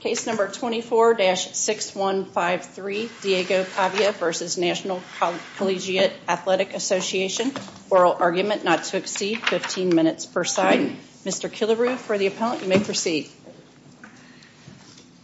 Case No. 24-6153, Diego Pavia v. National Collegiate Athletic Association. Oral argument not to exceed 15 minutes per side. Mr. Killaroo, for the appellant, you may proceed.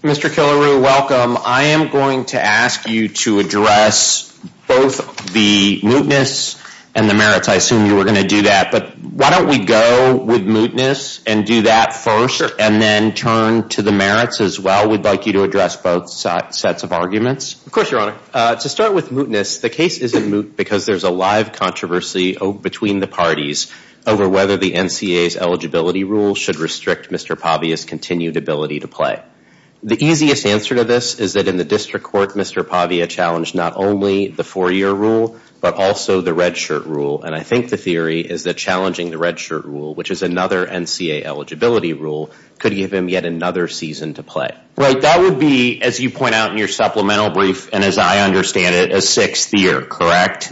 Mr. Killaroo, welcome. I am going to ask you to address both the mootness and the merits. I assume you were going to do that, but why don't we go with mootness and do that first and then turn to the merits as well. We'd like you to address both sets of arguments. Of course, Your Honor. To start with mootness, the case is in moot because there's a live controversy between the parties over whether the NCAA's eligibility rule should restrict Mr. Pavia's continued ability to play. The easiest answer to this is that in the district court, Mr. Pavia challenged not only the four-year rule, but also the redshirt rule. And I think the theory is that challenging the redshirt rule, which is another NCAA eligibility rule, could give him yet another season to play. Right. That would be, as you point out in your supplemental brief, and as I understand it, a sixth year, correct?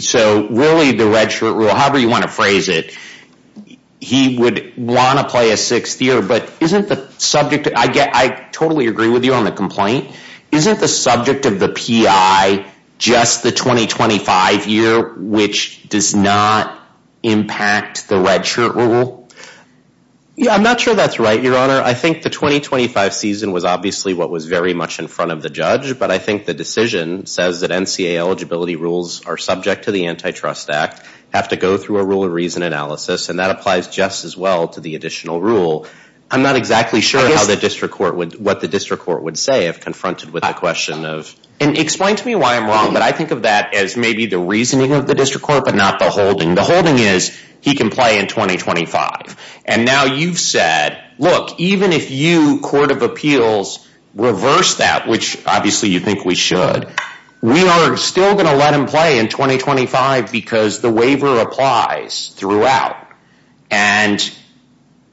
So really, the redshirt rule, however you want to phrase it, he would want to play a sixth year, but isn't the subject – I totally agree with you on the complaint – isn't the subject of the PI just the 2025 year, which does not impact the redshirt rule? Yeah, I'm not sure that's right, Your Honor. I think the 2025 season was obviously what was very much in front of the judge, but I think the decision says that NCAA eligibility rules are subject to the Antitrust Act, have to go through a rule of reason analysis, and that applies just as well to the additional rule. I'm not exactly sure what the district court would say if confronted with the question of… Explain to me why I'm wrong, but I think of that as maybe the reasoning of the district court, but not the holding. The holding is he can play in 2025, and now you've said, look, even if you, Court of Appeals, reverse that, which obviously you think we should, we aren't still going to let him play in 2025 because the waiver applies throughout, and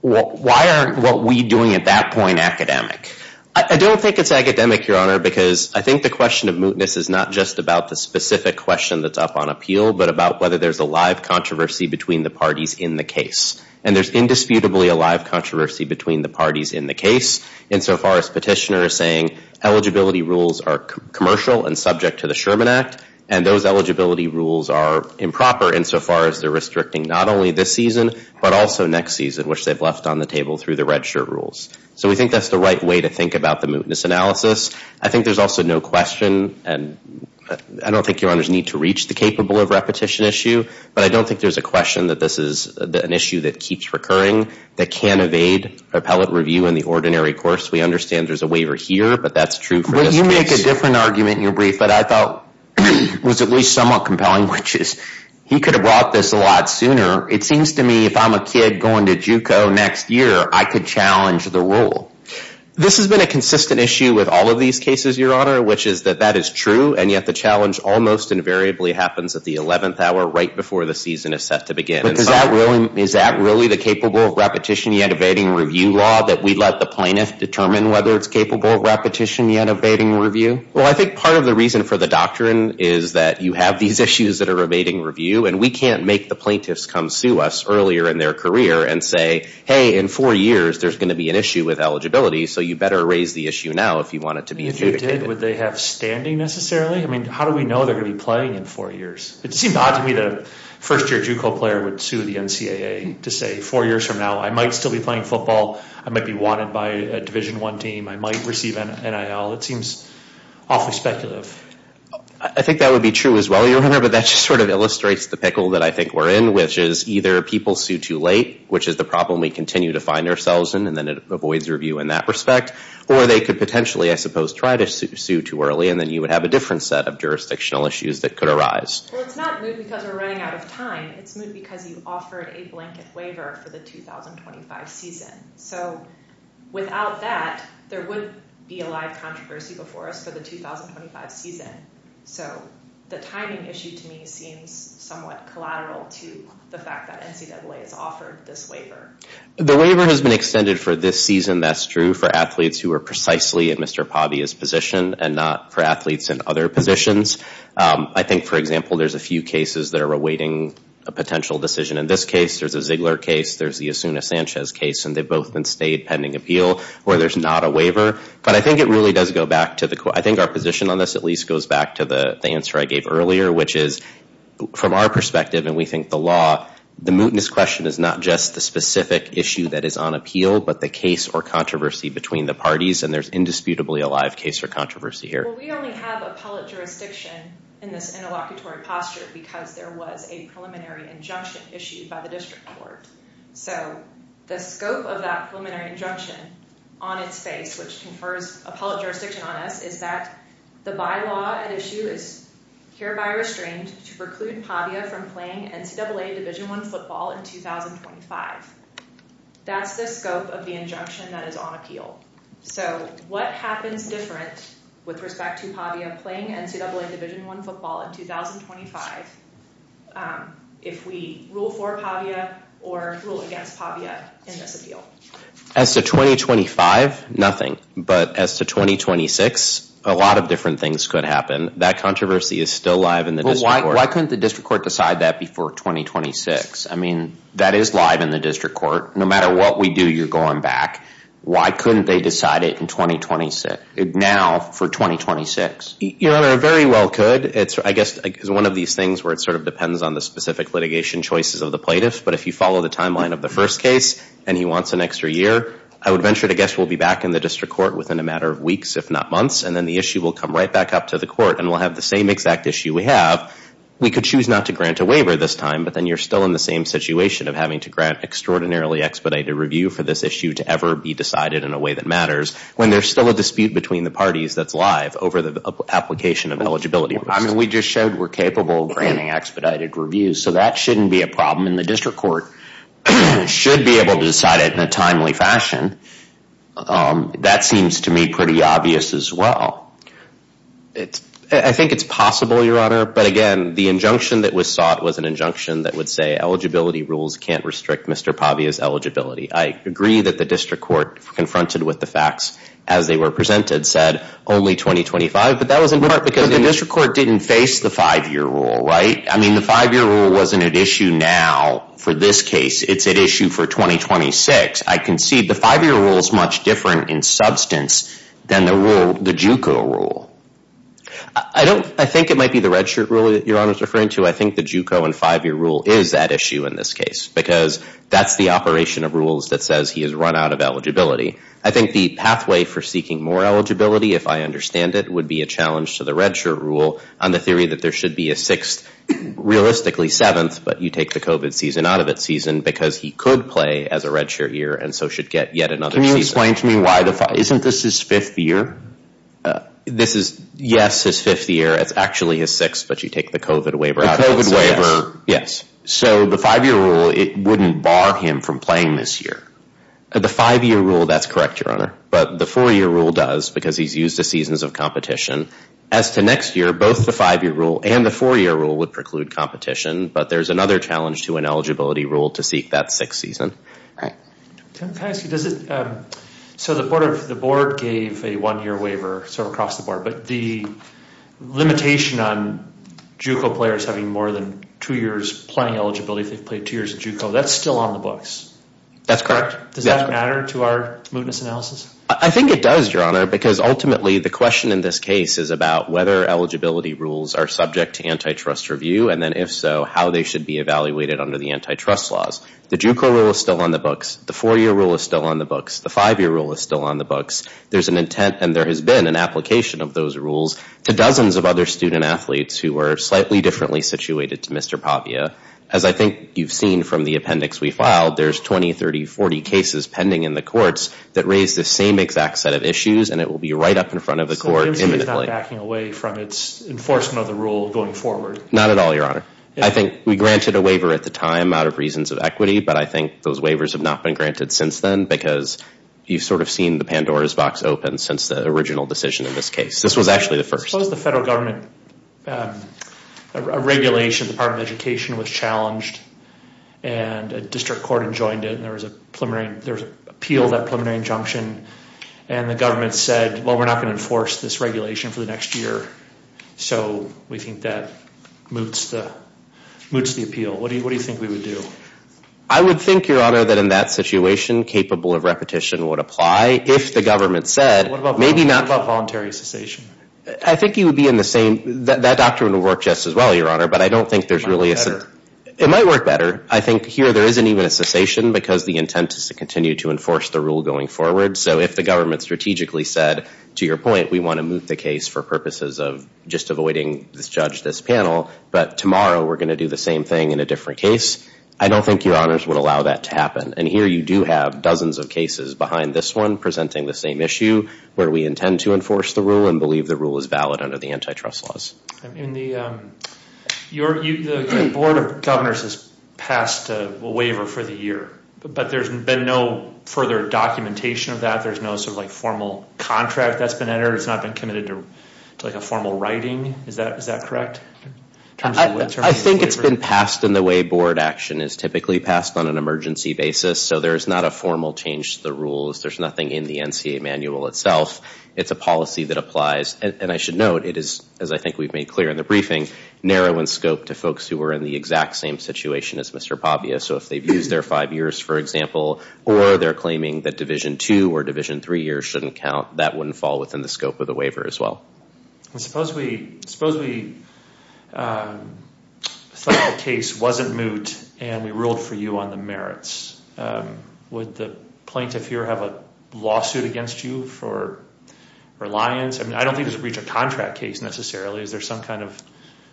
why aren't what we're doing at the moment? I don't think it's academic, Your Honor, because I think the question of mootness is not just about the specific question that's up on appeal, but about whether there's a live controversy between the parties in the case, and there's indisputably a live controversy between the parties in the case insofar as petitioners saying eligibility rules are commercial and subject to the Sherman Act, and those eligibility rules are improper insofar as they're restricting not only this season, but also next season, which they've left on the table through the mootness analysis. I think there's also no question, and I don't think Your Honor's need to reach the capable of repetition issue, but I don't think there's a question that this is an issue that keeps recurring, that can evade appellate review in the ordinary course. We understand there's a waiver here, but that's true. Well, you make a different argument in your brief that I thought was at least somewhat compelling, which is he could have brought this a lot sooner. It seems to me if I'm a kid going to JUCO next year, I could challenge the rule. This has been a consistent issue with all of these cases, Your Honor, which is that that is true, and yet the challenge almost invariably happens at the 11th hour right before the season is set to begin. Is that really the capable of repetition yet evading review law, that we let the plaintiffs determine whether it's capable of repetition yet evading review? Well, I think part of the reason for the doctrine is that you have these issues that are evading review, and we can't make the plaintiffs come sue us earlier in their career and say, hey, in four years, there's going to be an issue with eligibility, so you better raise the issue now if you want it to be evaded. If you did, would they have standing necessarily? I mean, how do we know they're going to be playing in four years? It seems odd to me that a first-year JUCO player would sue the NCAA to say, four years from now, I might still be playing football. I might be wanted by a Division I team. I might receive NIL. It seems awfully speculative. I think that would be true as well, Your Honor, but that just sort of illustrates the pickle that I think we're in, which is either people sue too late, which is the problem we continue to find ourselves in, and then it avoids review in that respect, or they could potentially, I suppose, try to sue too early, and then you would have a different set of jurisdictional issues that could arise. Well, it's not because we're running out of time. It's because you offered a blanket waiver for the 2025 season. So without that, there wouldn't be a live controversy before us for the 2025 season. So the timing issue, to me, seems somewhat collateral to the fact that NCAA has offered this waiver. The waiver has been extended for this season. That's true for athletes who are precisely in Mr. Pavia's position and not for athletes in other positions. I think, for example, there's a few cases that are awaiting a potential decision. In this case, there's a Ziegler case, there's the Asuna Sanchez case, and they've both been stayed pending appeal where there's not a But I think it really does go back to the... I think our position on this at least goes back to the answer I gave earlier, which is, from our perspective, and we think the law, the mootness question is not just the specific issue that is on appeal, but the case or controversy between the parties, and there's indisputably a live case for controversy here. Well, we only have appellate jurisdiction in this interlocutory posture because there was a preliminary injunction issued by the district court. So the scope of that preliminary injunction on its face, which confers appellate jurisdiction on us, is that the bylaw at issue is hereby restrained to preclude Pavia from playing NCAA Division I football in 2025. That's the scope of the injunction that is on appeal. So what happens different with respect to Pavia playing NCAA Division I football in 2025 if we rule for Pavia or rule against Pavia in the appeal? As to 2025, nothing. But as to 2026, a lot of different things could happen. That controversy is still live in the district court. Why couldn't the district court decide that before 2026? I mean, that is live in the district court. No matter what we do, you're going back. Why couldn't they decide it in 2026, now for 2026? Your Honor, it very well could. It's, I guess, one of these things where it sort of depends on the specific litigation choices of the plaintiff. But if you follow the timeline of the first case and he wants an extra year, I would venture to guess we'll be back in the district court within a matter of weeks, if not months. And then the issue will come right back up to the court and we'll have the same exact issue we have. We could choose not to grant a waiver this time, but then you're still in the same situation of having to grant extraordinarily expedited review for this issue to ever be decided in a way that matters when there's still a dispute between the parties that's live over the application of eligibility. I mean, we just showed we're capable of granting expedited reviews, so that shouldn't be a problem. And the district court should be able to decide it in a timely fashion. That seems to me pretty obvious as well. I think it's possible, Your Honor, but again, the injunction that was sought was an injunction that would say eligibility rules can't restrict Mr. Pavia's eligibility. I agree that the district court confronted with the facts as they were presented said only 2025, but that wasn't part because the district court didn't face the five-year rule, right? I mean, the five-year rule wasn't an issue now for this case. It's an issue for 2026. I can see the five-year rule is much different in substance than the rule, the JUCO rule. I don't, I think it might be the redshirt rule that Your Honor is referring to. I think the JUCO and five-year rule is that issue in this case because that's the operation of rules that says he has run out of eligibility. I think the pathway for seeking more eligibility, if I understand it, would be a challenge to the redshirt rule on the theory that there should be a sixth, realistically seventh, but you take the COVID season out of it season because he could play as a redshirt year and so should get yet another season. Can you explain to me why the, isn't this his fifth year? This is, yes, his fifth year. It's actually his sixth, but you take the COVID waiver out of it. The COVID waiver. Yes. So the five-year rule, it wouldn't bar him from playing this year. The five-year rule, that's correct, Your Honor, but the four-year rule does because he's used the seasons of competition. As to next year, both the five-year rule and the four-year rule would preclude competition, but there's another challenge to an eligibility rule to seek that sixth season. So the board gave a one-year waiver, so across the board, but the limitation on JUCO players having more than two years playing eligibility to play two years at JUCO, that's still on the books. That's correct. Does that matter to our mootness analysis? I think it does, Your Honor, because ultimately the question in this case is about whether eligibility rules are subject to antitrust review and then if so, how they should be evaluated under the antitrust laws. The JUCO rule is still on the books. The four-year rule is still on the books. The five-year rule is still on the books. There's an intent, and there has been an application of those rules to dozens of other student athletes who were slightly differently situated to Mr. Papia. As I think you've seen from the appendix we filed, there's 20, 30, 40 cases pending in the courts that raise the same exact set of issues and it will be right up in front of the court imminently. It's not backing away from its enforcement of the rule going forward? Not at all, Your Honor. I think we granted a waiver at the time out of reasons of equity, but I think those waivers have not been granted since then because you've sort of seen the Pandora's box open since the original decision in this case. This was actually the first. So the federal government regulation, the Department of Education was challenged, and a district court adjoined it, and there was an appeal, that preliminary injunction, and the government said, well, we're not going to enforce this regulation for the next year, so we think that moots the appeal. What do you think we would do? I would think, Your Honor, that in that situation, capable of repetition would apply if the government said, maybe not... What about voluntary cessation? I think you would be in the same... That doctrine would work just as well, Your Honor, but I don't think there's really... It might work better. It might work better. I think here there isn't even a cessation because the intent is to continue to enforce the rule going forward, so if the government strategically said, to your point, we want to move the case for purposes of just avoiding this judge, this panel, but tomorrow we're going to do the same thing in a different case, I don't think Your Honors would allow that to happen, and here you do have dozens of cases behind this one presenting the same issue where we intend to enforce the rule and believe the rule is valid under the antitrust laws. The Board of Governors has passed a waiver for the year, but there's been no further documentation of that. There's no formal contract that's been entered. It's not been committed to formal writing. Is that correct? I think it's been passed in the way board action is typically passed on an emergency basis, so there's not a formal change to the rules. There's policy that applies, and I should note, it is, as I think we've made clear in the briefing, narrow in scope to folks who are in the exact same situation as Mr. Pavia, so if they've used their five years, for example, or they're claiming that Division 2 or Division 3 years shouldn't count, that wouldn't fall within the scope of the waiver as well. Suppose the case wasn't moot and we ruled for you on the merits. Would the plaintiff here have a lawsuit against you for reliance? I mean, I don't think there's a breach of contract case necessarily. Is there some kind of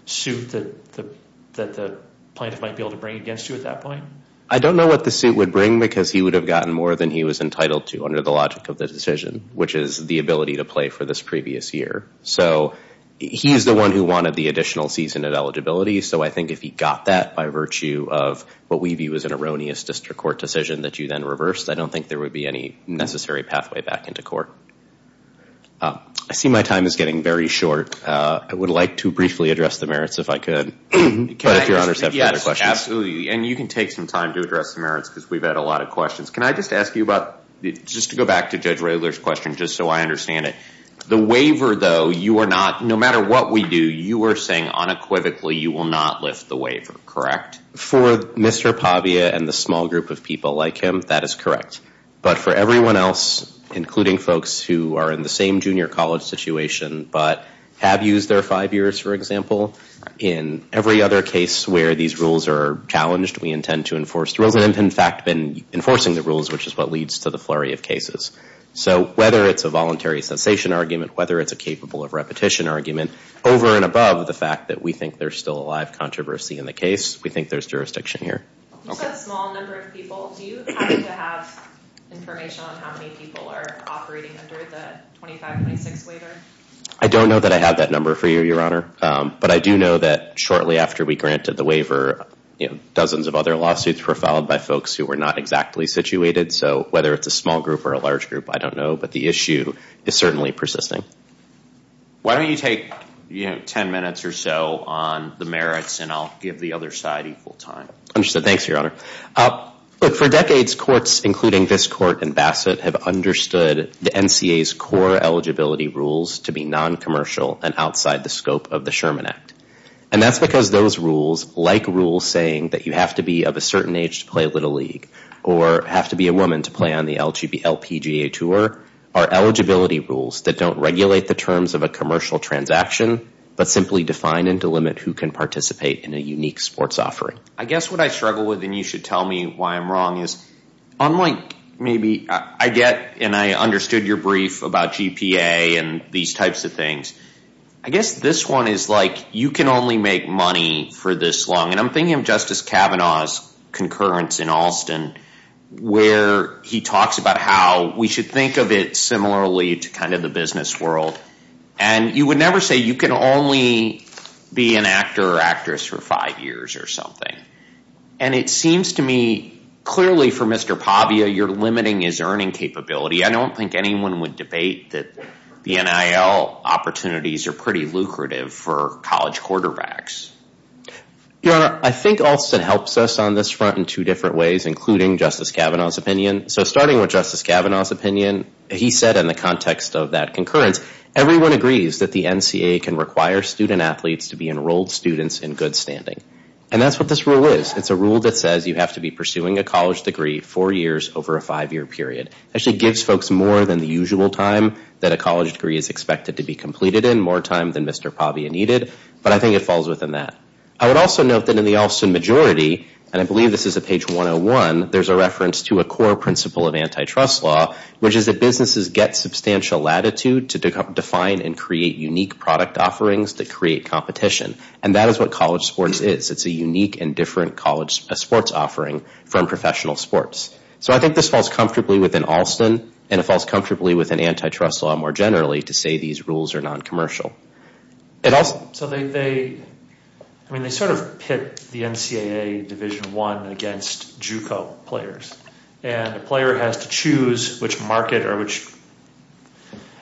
suit that the plaintiff might be able to bring against you at that point? I don't know what the suit would bring because he would have gotten more than he was entitled to under the logic of the decision, which is the ability to play for this previous year. So he's the one who wanted the additional season of eligibility, so I think if he got that by virtue of what we view as an erroneous district court decision that you then reversed, I don't think there would be any necessary pathway back into court. I see my time is getting very short. I would like to briefly address the merits if I could. Absolutely, and you can take some time to address the merits because we've had a lot of questions. Can I just ask you about, just to go back to Judge Roehler's question just so I understand it, the waiver though, you are not, no matter what we do, you were saying unequivocally you will not lift the waiver, correct? For Mr. Pavia and the small group of people like him, that is correct. But for everyone else, including folks who are in the same junior college situation but have used their five years, for example, in every other case where these rules are challenged, we intend to enforce them. In fact, we've been enforcing the rules, which is what leads to the flurry of cases. So whether it's a voluntary cessation argument, whether it's a capable of repetition argument, over and above the fact that we think there's still a live I don't know that I have that number for you, Your Honor, but I do know that shortly after we granted the waiver, you know, dozens of other lawsuits were filed by folks who were not exactly situated. So whether it's a small group or a large group, I don't know, but the issue is certainly persisting. Why don't you take 10 minutes or so on the merits and I'll give the side equal time. Thanks, Your Honor. For decades, courts, including this court and Bassett, have understood the NCA's core eligibility rules to be non-commercial and outside the scope of the Sherman Act. And that's because those rules, like rules saying that you have to be of a certain age to play Little League or have to be a woman to play on the LPGA tour, are eligibility rules that don't regulate the terms of a commercial transaction, but simply define and delimit who can in a unique sports offering. I guess what I struggle with, and you should tell me why I'm wrong, is I'm like, maybe I get, and I understood your brief about GPA and these types of things. I guess this one is like, you can only make money for this long. And I'm thinking of Justice Kavanaugh's concurrence in Austin, where he talks about how we should think of it similarly to kind And you would never say you can only be an actor or actress for five years or something. And it seems to me clearly for Mr. Pavia, you're limiting his earning capability. I don't think anyone would debate that the NIL opportunities are pretty lucrative for college quarterbacks. Your Honor, I think Alston helps us on this front in two different ways, including Justice Kavanaugh's opinion. So starting with Justice Kavanaugh's opinion, he said in the context of that concurrence, everyone agrees that the NCAA can require student athletes to be enrolled students in good standing. And that's what this rule is. It's a rule that says you have to be pursuing a college degree four years over a five-year period. Actually gives folks more than the usual time that a college degree is expected to be completed in, more time than Mr. Pavia needed. But I think it falls within that. I would also note that in the Alston majority, and I believe this is at page 101, there's a reference to a core principle of antitrust law, which is that businesses get substantial latitude to define and create unique product offerings to create competition. And that is what college sports is. It's a unique and different college sports offering from professional sports. So I think this falls comfortably within Alston, and it falls comfortably with an antitrust law more generally to say these rules are non-commercial. So they sort of pit the NCAA Division I against JUCO players. And the player has to choose which market or which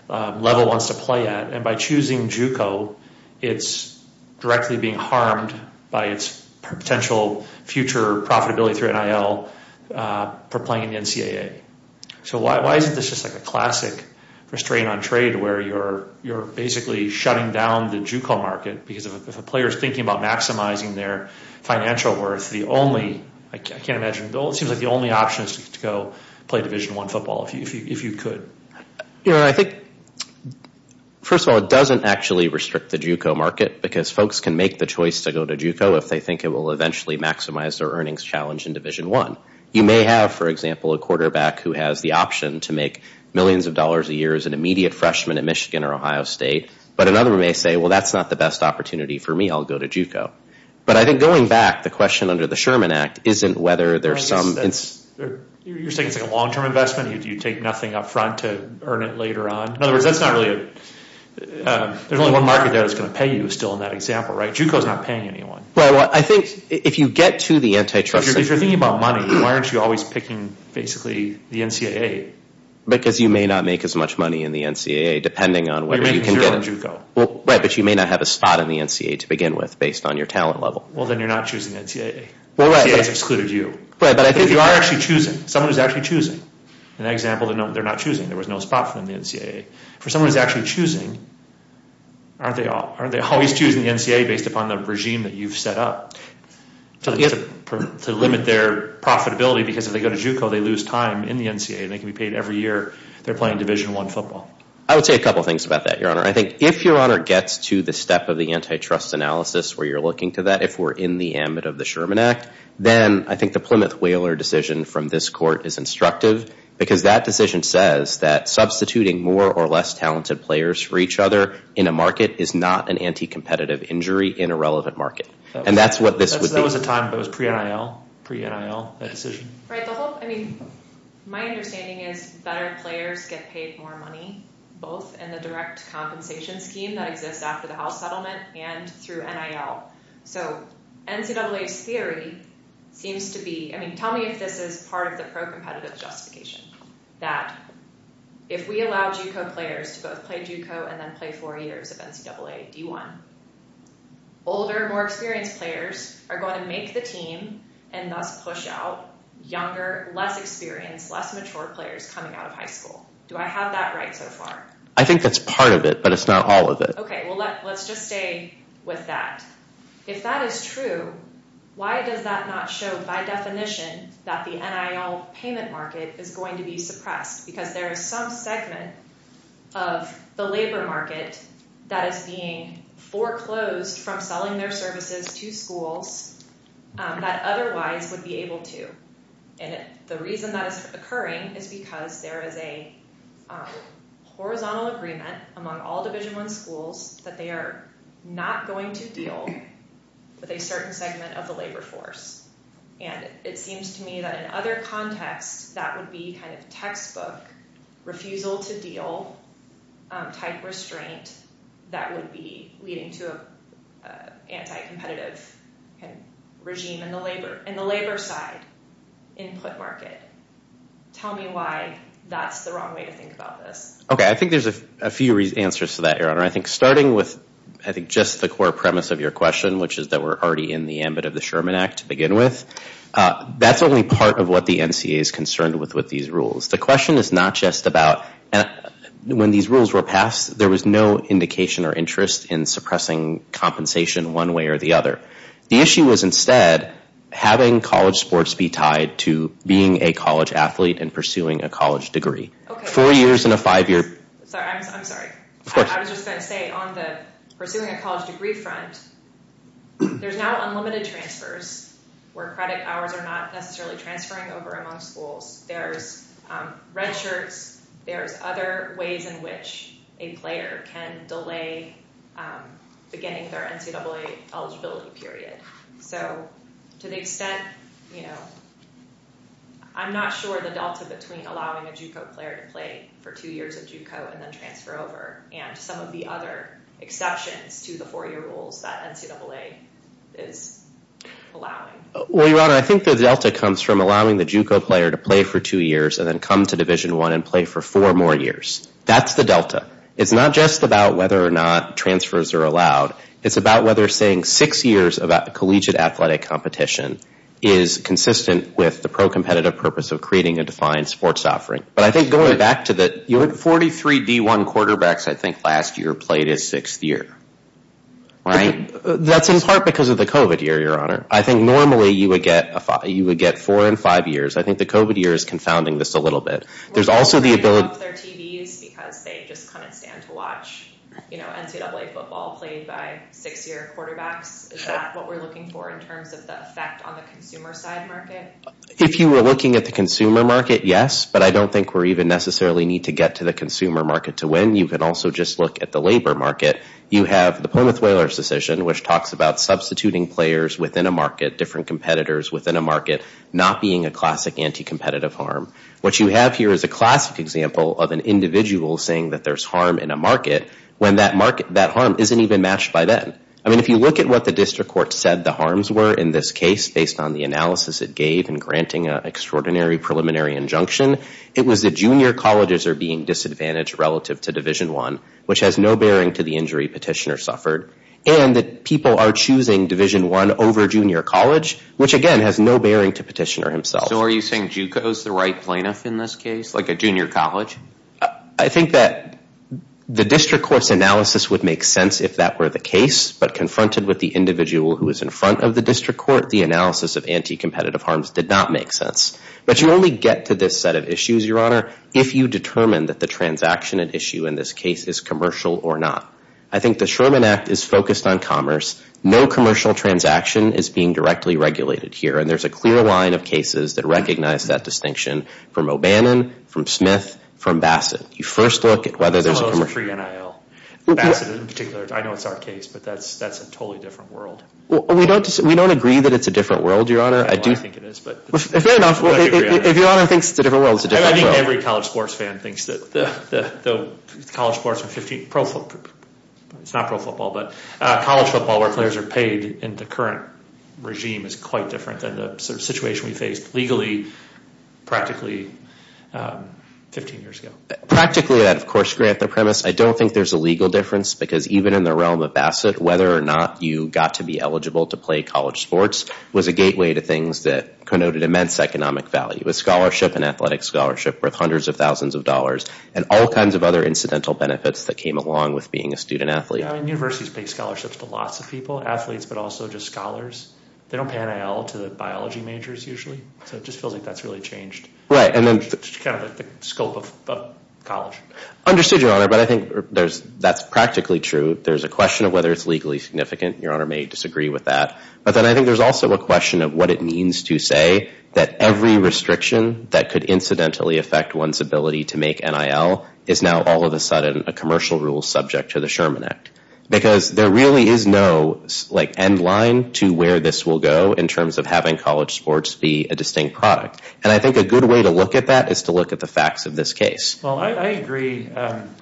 level wants to play at. And by choosing JUCO, it's directly being harmed by its potential future profitability through NIL for playing in the NCAA. So why isn't this just like a classic restraint on trade where you're basically shutting down the JUCO market? Because if a player is thinking about maximizing their financial worth, the only, it seems like the only option is to go play Division I football if you could. You know, I think, first of all, it doesn't actually restrict the JUCO market because folks can make the choice to go to JUCO if they think it will eventually maximize their earnings challenge in Division I. You may have, for example, a quarterback who has the option to make millions of dollars a year as an immediate freshman at Michigan or Ohio State, but another may say, well, that's not the best opportunity for me. I'll go to JUCO. But I think going back, the question under the Sherman Act isn't whether there's some... You're saying it's a long-term investment? You take nothing up front to earn it later on? In other words, that's not really a... There's only one market there that's going to pay you still in that example, right? JUCO's not paying anyone. Right. Well, I think if you get to the antitrust... If you're thinking about money, why aren't you always picking basically the NCAA? Because you may not make as much money in the NCAA depending on whether you can get... But making it on JUCO. Well, right. But you may not have a spot in the NCAA to begin with based on your talent level. Well, then you're not choosing the NCAA. The NCAA has excluded you. Right, but I think... But you are actually choosing. Someone is actually choosing. In that example, they're not choosing. There was no spot for them in the NCAA. For someone who's actually choosing, aren't they always choosing the NCAA based upon the regime that you've set up to limit their profitability? Because if they go to JUCO, they lose time in the NCAA. They can be paid every year they're playing Division I football. I would say a couple of things about that, Your Honor. I think if Your Honor gets to the step of antitrust analysis, where you're looking to that, if we're in the ambit of the Sherman Act, then I think the Plymouth-Whaler decision from this court is instructive, because that decision says that substituting more or less talented players for each other in a market is not an anti-competitive injury in a relevant market. And that's what this would be. That was a time. That was pre-NIL. Pre-NIL, that decision. Right. I mean, my understanding is better players get paid more money, both in the direct compensation scheme that exists after the house settlement and through NIL. So NCAA's theory seems to be, I mean, tell me if this is part of the pro-competitive justification, that if we allow JUCO players to both play JUCO and then play four years of NCAA D1, older, more experienced players are going to make the team and not push out younger, less experienced, less mature players coming out of high school. Do I have that right so far? I think that's part of it, but it's not all of it. Okay. Well, let's just stay with that. If that is true, why does that not show, by definition, that the NIL payment market is going to be suppressed? Because there is some segment of the labor market that is being foreclosed from selling their services to schools that otherwise would be able to. And the reason that is occurring is because there is a horizontal agreement among all Division I schools that they are not going to deal with a certain segment of the labor force. And it seems to me that in other contexts, that would be kind of textbook refusal to deal type restraint that would be leading to an anti-competitive regime in the labor side. Input market. Tell me why that's the wrong way to think about this. Okay. I think there's a few answers to that, Your Honor. I think starting with, I think, just the core premise of your question, which is that we're already in the ambit of the Sherman Act to begin with, that's only part of what the NCAA is concerned with with these rules. The question is not just about when these rules were passed, there was no indication or interest in suppressing compensation one way or the other. The issue was, instead, having college sports be tied to being a college athlete and pursuing a college degree. Okay. Four years and a five-year. Sorry. I'm sorry. I was just going to say, on the pursuing a college degree front, there's now unlimited transfers where credit hours are not necessarily transferring over among schools. There are other ways in which a player can delay beginning their NCAA eligibility period. To the extent, I'm not sure the delta between allowing a JUCO player to play for two years at JUCO and then transfer over, and some of the other exceptions to the four-year rules that NCAA is allowing. Well, Your Honor, I think the delta comes from allowing the JUCO player to play for two years and then come to Division I and play for four more years. That's the delta. It's not just about whether or not transfers are allowed. It's about whether staying six years of collegiate athletic competition is consistent with the pro-competitive purpose of creating a defined sports offering. But I think going back to the 43 V1 quarterbacks, I think, last year played at sixth year. Right? That's in part because of the COVID year, Your Honor. I think normally you would get four and five years. I think the COVID year is confounding this a little bit. There's also the ability... ...TVs because they just kind of stand to watch, you know, NCAA football played by six-year quarterbacks. Is that what we're looking for in terms of the effect on the consumer side market? If you were looking at the consumer market, yes. But I don't think we even necessarily need to get to the consumer market to win. You can also just look at the labor market. You have the Pullman-Thaler's decision, which talks about substituting players within a market, different competitors within a market, not being a classic anti-competitive harm. What you have here is a classic example of an individual saying that there's harm in a market when that harm isn't even matched by them. I mean, if you look at what the district court said the harms were in this case, based on the analysis it gave in granting an extraordinary preliminary injunction, it was that junior colleges are being disadvantaged relative to Division I, which has no bearing to the injury petitioner suffered, and that people are choosing Division I over junior college, which again has no bearing to petitioner himself. So are you saying JUCO is the right lineup in this case, like a junior college? I think that the district court's analysis would make sense if that were the case, but confronted with the individual who is in front of the district court, the analysis of anti-competitive harms did not make sense. But you only get to this set of issues, Your Honor, if you determine that the transaction at issue in this case is commercial or not. I think the Sherman Act is focused on commerce. No commercial transaction is being directly regulated here. There's a clear line of cases that recognize that distinction from O'Bannon, from Smith, from Bassett. You first look at whether there's a commercial... I'm not sure you're in IL. I know it's our case, but that's a totally different world. We don't agree that it's a different world, Your Honor. I think it is, but... If Your Honor thinks it's a different world, it's a different world. I think every college sports fan thinks that the college sports... It's not pro football, but college football where players are paid in the current regime is quite different than the situation we faced legally, practically, 15 years ago. Practically, of course, grant the premise. I don't think there's a legal difference, because even in the realm of Bassett, whether or not you got to be eligible to play college sports was a gateway to things that connoted immense economic value. It was scholarship and athletic scholarship worth hundreds of thousands of dollars, and all kinds of other incidental benefits that came along with being a student athlete. Universities pay scholarships to lots of people, athletes, but also just scholars. They don't pay NIL to the biology majors usually, so it just feels like that's really changed the scope of college. Understood, Your Honor, but I think that's practically true. There's a question of whether it's legally significant. Your Honor may disagree with that, but then I think there's also a question of what it means to say that every restriction that could incidentally affect one's ability to make NIL is now all of a sudden a commercial rule subject to the Sherman Act, because there really is no end line to where this will go in terms of having college sports be a distinct product, and I think a good way to look at that is to look at the facts of this case. Well, I agree. A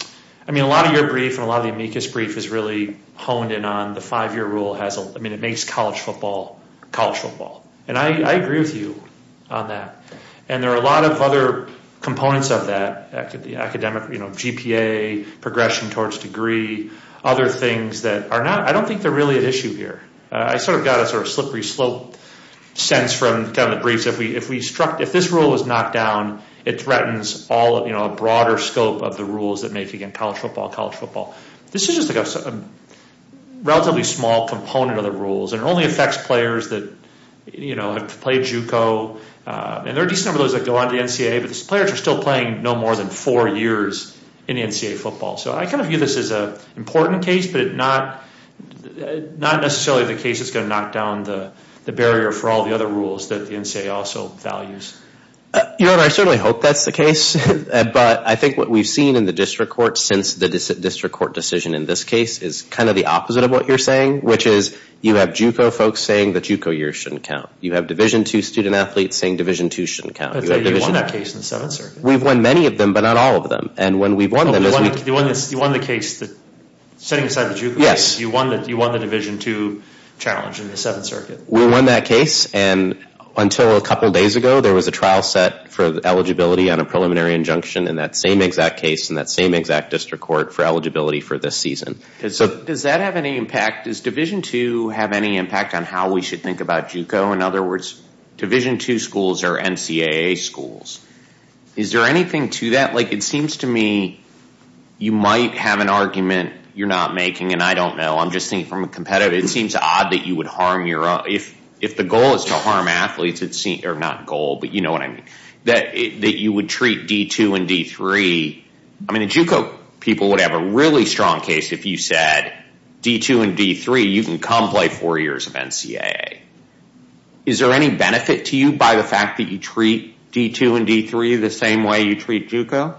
lot of your brief and a lot of the amicus brief is really honed in on the five-year rule. It makes college football college football, and I agree with you on that, and there are a lot of other components of that, academic GPA, progression towards degree, other things that are not... I don't think they're really an issue here. I sort of got a sort of slippery slope sense from kind of the briefs. If we struck... If this rule is knocked down, it threatens all of, you know, a broader scope of the rules that make, again, college football college football. This is just a relatively small component of the rules and only affects players that, you know, have played JUCO, and there are a decent number of those that go on the NCAA, but these players are still playing no more than four years in the NCAA football, so I kind of view this as an important case, but not necessarily the case that's gonna knock down the barrier for all the other rules that the NCAA also values. You know, and I certainly hope that's the case, but I think what we've seen in the district court since the district court decision in this case is kind of the opposite of what you're saying, which is you have JUCO folks saying that JUCO years shouldn't count. You have Division II student athletes saying Division II shouldn't count. We've won many of them, but not all of them, and when we've won them... You won the case that set aside JUCO. Yes. You won the Division II challenge in the Seventh Circuit. We won that case, and until a couple days ago, there was a trial set for eligibility on a preliminary injunction in that same exact case in that same exact district court for eligibility for this season. So does that have any impact? Does Division II have any impact on how we should think about JUCO? In other words, Division II schools are NCAA schools. Is there anything to that? It seems to me you might have an argument you're not making, and I don't know. I'm just thinking from a competitor, it seems odd that you would harm your own... If the goal is to harm athletes, or not goal, but you know what I mean, that you would treat D2 and D3... I mean, in JUCO, people would have a really strong case if you said D2 and D3, you can come play four years of NCAA. Is there any benefit to you by the fact that you treat D2 and D3 the same way you treat JUCO?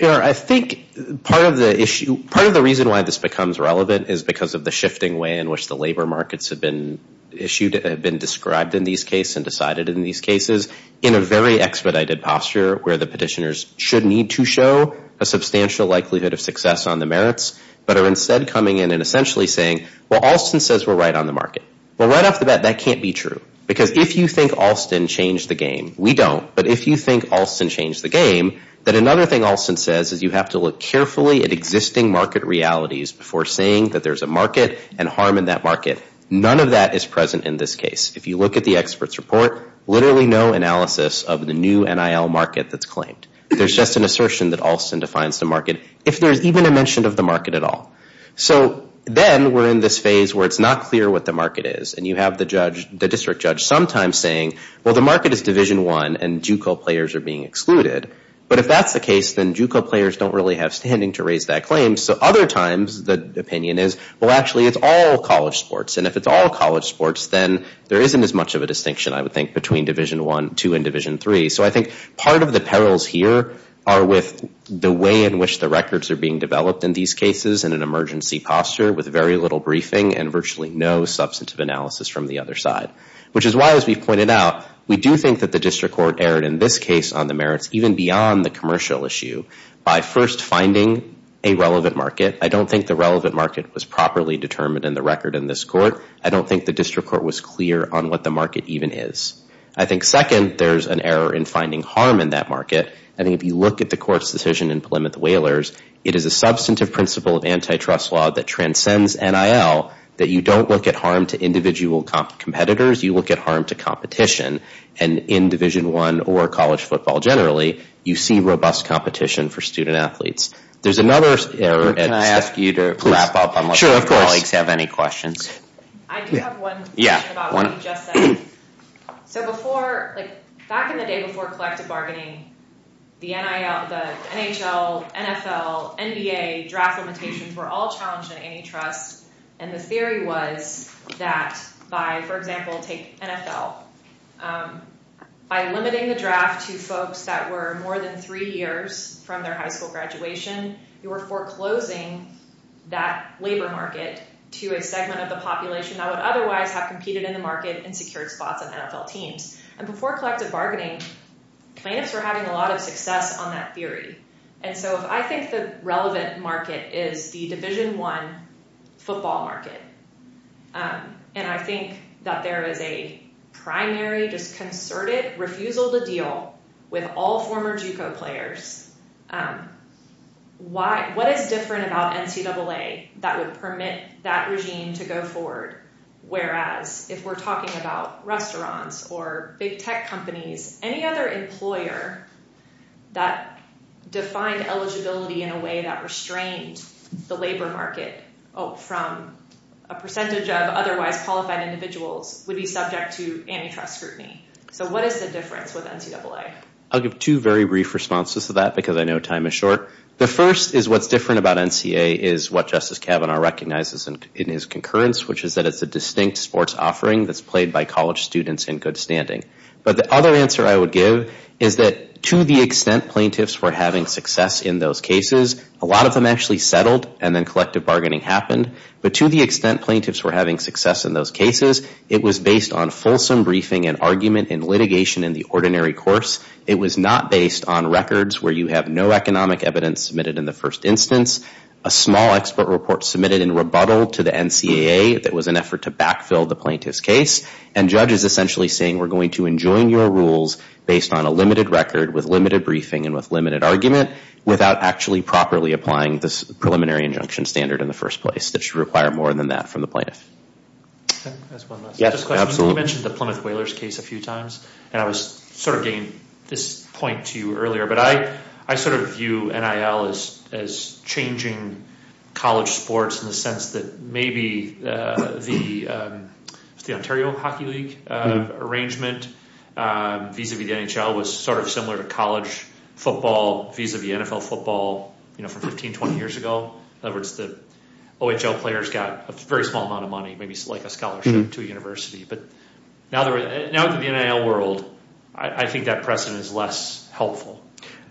I think part of the issue, part of the reason why this becomes relevant is because of the shifting way in which the labor markets have been issued, have been described in these cases and decided in these cases in a very expedited posture where the petitioners should need to show a substantial likelihood of success on the merits, but are instead coming in and essentially saying, well, Alston says we're right on the market. Well, right off the bat, that can't be true because if you think Alston changed the game, we don't. But if you think Alston changed the game, then another thing Alston says is you have to look carefully at existing market realities before saying that there's a market and harm in that market. None of that is present in this case. If you look at the expert's report, literally no analysis of the new NIL market that's claimed. There's just an assertion that Alston defines the market if there's even a mention of the market at all. So then we're in this phase where it's not clear what the market is. And you have the district judge sometimes saying, well, the market is division one and JUCO players are being excluded. But if that's the case, then JUCO players don't really have standing to raise that claim. So other times the opinion is, well, actually it's all college sports. And if it's all college sports, then there isn't as much of a distinction, I would think between division one, two and division three. So I think part of the perils here are with the way in which the records are being developed in these cases in an emergency posture with very little briefing and virtually no substantive analysis from the other side, which is why, as we pointed out, we do think that the district court erred in this case on the merits, even beyond the commercial issue by first finding a relevant market. I don't think the relevant market was properly determined in the record in this court. I don't think the district court was clear on what the market even is. I think second, there's an error in finding harm in that market. And if you look at the court's decision in Plymouth Whalers, it is a substantive principle of antitrust law that transcends NIL, that you don't look at harm to individual competitors, you look at harm to competition. And in division one or college football generally, you see robust competition for student athletes. There's another error. Can I ask you to wrap up? I'm not sure if colleagues have any questions. I do have one question about what you just said. So back in the day before collective bargaining, the NHL, NFL, NBA draft limitations were all challenged in antitrust. And the theory was that by, for example, NFL, by limiting the draft to folks that were more than three years from their high school graduation, you were foreclosing that labor market to a segment of the population that would otherwise have competed in the market and secured spots on NFL teams. And before collective bargaining, plaintiffs were having a lot of success on that theory. And so I think the relevant market is the division one football market. And I think that there is a primary just concerted refusal to deal with all former GCO players. What is different about NCAA that would permit that regime to go forward? Whereas if we're talking about restaurants or big tech companies, any other employer that defined eligibility in a way that restrains the labor market from a percentage of otherwise qualified individuals would be subject to antitrust scrutiny. So what is the difference with NCAA? I'll give two very brief responses to that because I know time is short. The first is what's different about NCAA is what Justice Kavanaugh recognizes in his concurrence, which is that it's a distinct sports offering that's played by college students in good standing. But the other answer I would give is that to the extent plaintiffs were having success in those cases, a lot of them actually settled and then collective bargaining happened. But to the extent plaintiffs were having success in those cases, it was based on fulsome briefing and argument and litigation in the ordinary course. It was not based on records where you have no economic evidence submitted in the first instance, a small expert report submitted in rebuttal to the NCAA that was an effort to backfill the plaintiff's case. And judges essentially saying, we're going to enjoin your rules based on a limited record with limited briefing and with limited argument without actually properly applying this preliminary injunction standard in the first place, that should require more than that from the plaintiff. That's my last question. You mentioned the Plymouth Whalers case a few times, and I was sort of getting this point to you earlier, but I sort of view NIL as changing college sports in the sense that maybe the Ontario Hockey League arrangement vis-a-vis the NHL was sort of similar to college football vis-a-vis NFL football from 15, 20 years ago. In other words, the OHL players got a very small amount of money, maybe like a scholarship to a university. But now in the NIL world, I think that precedent is less helpful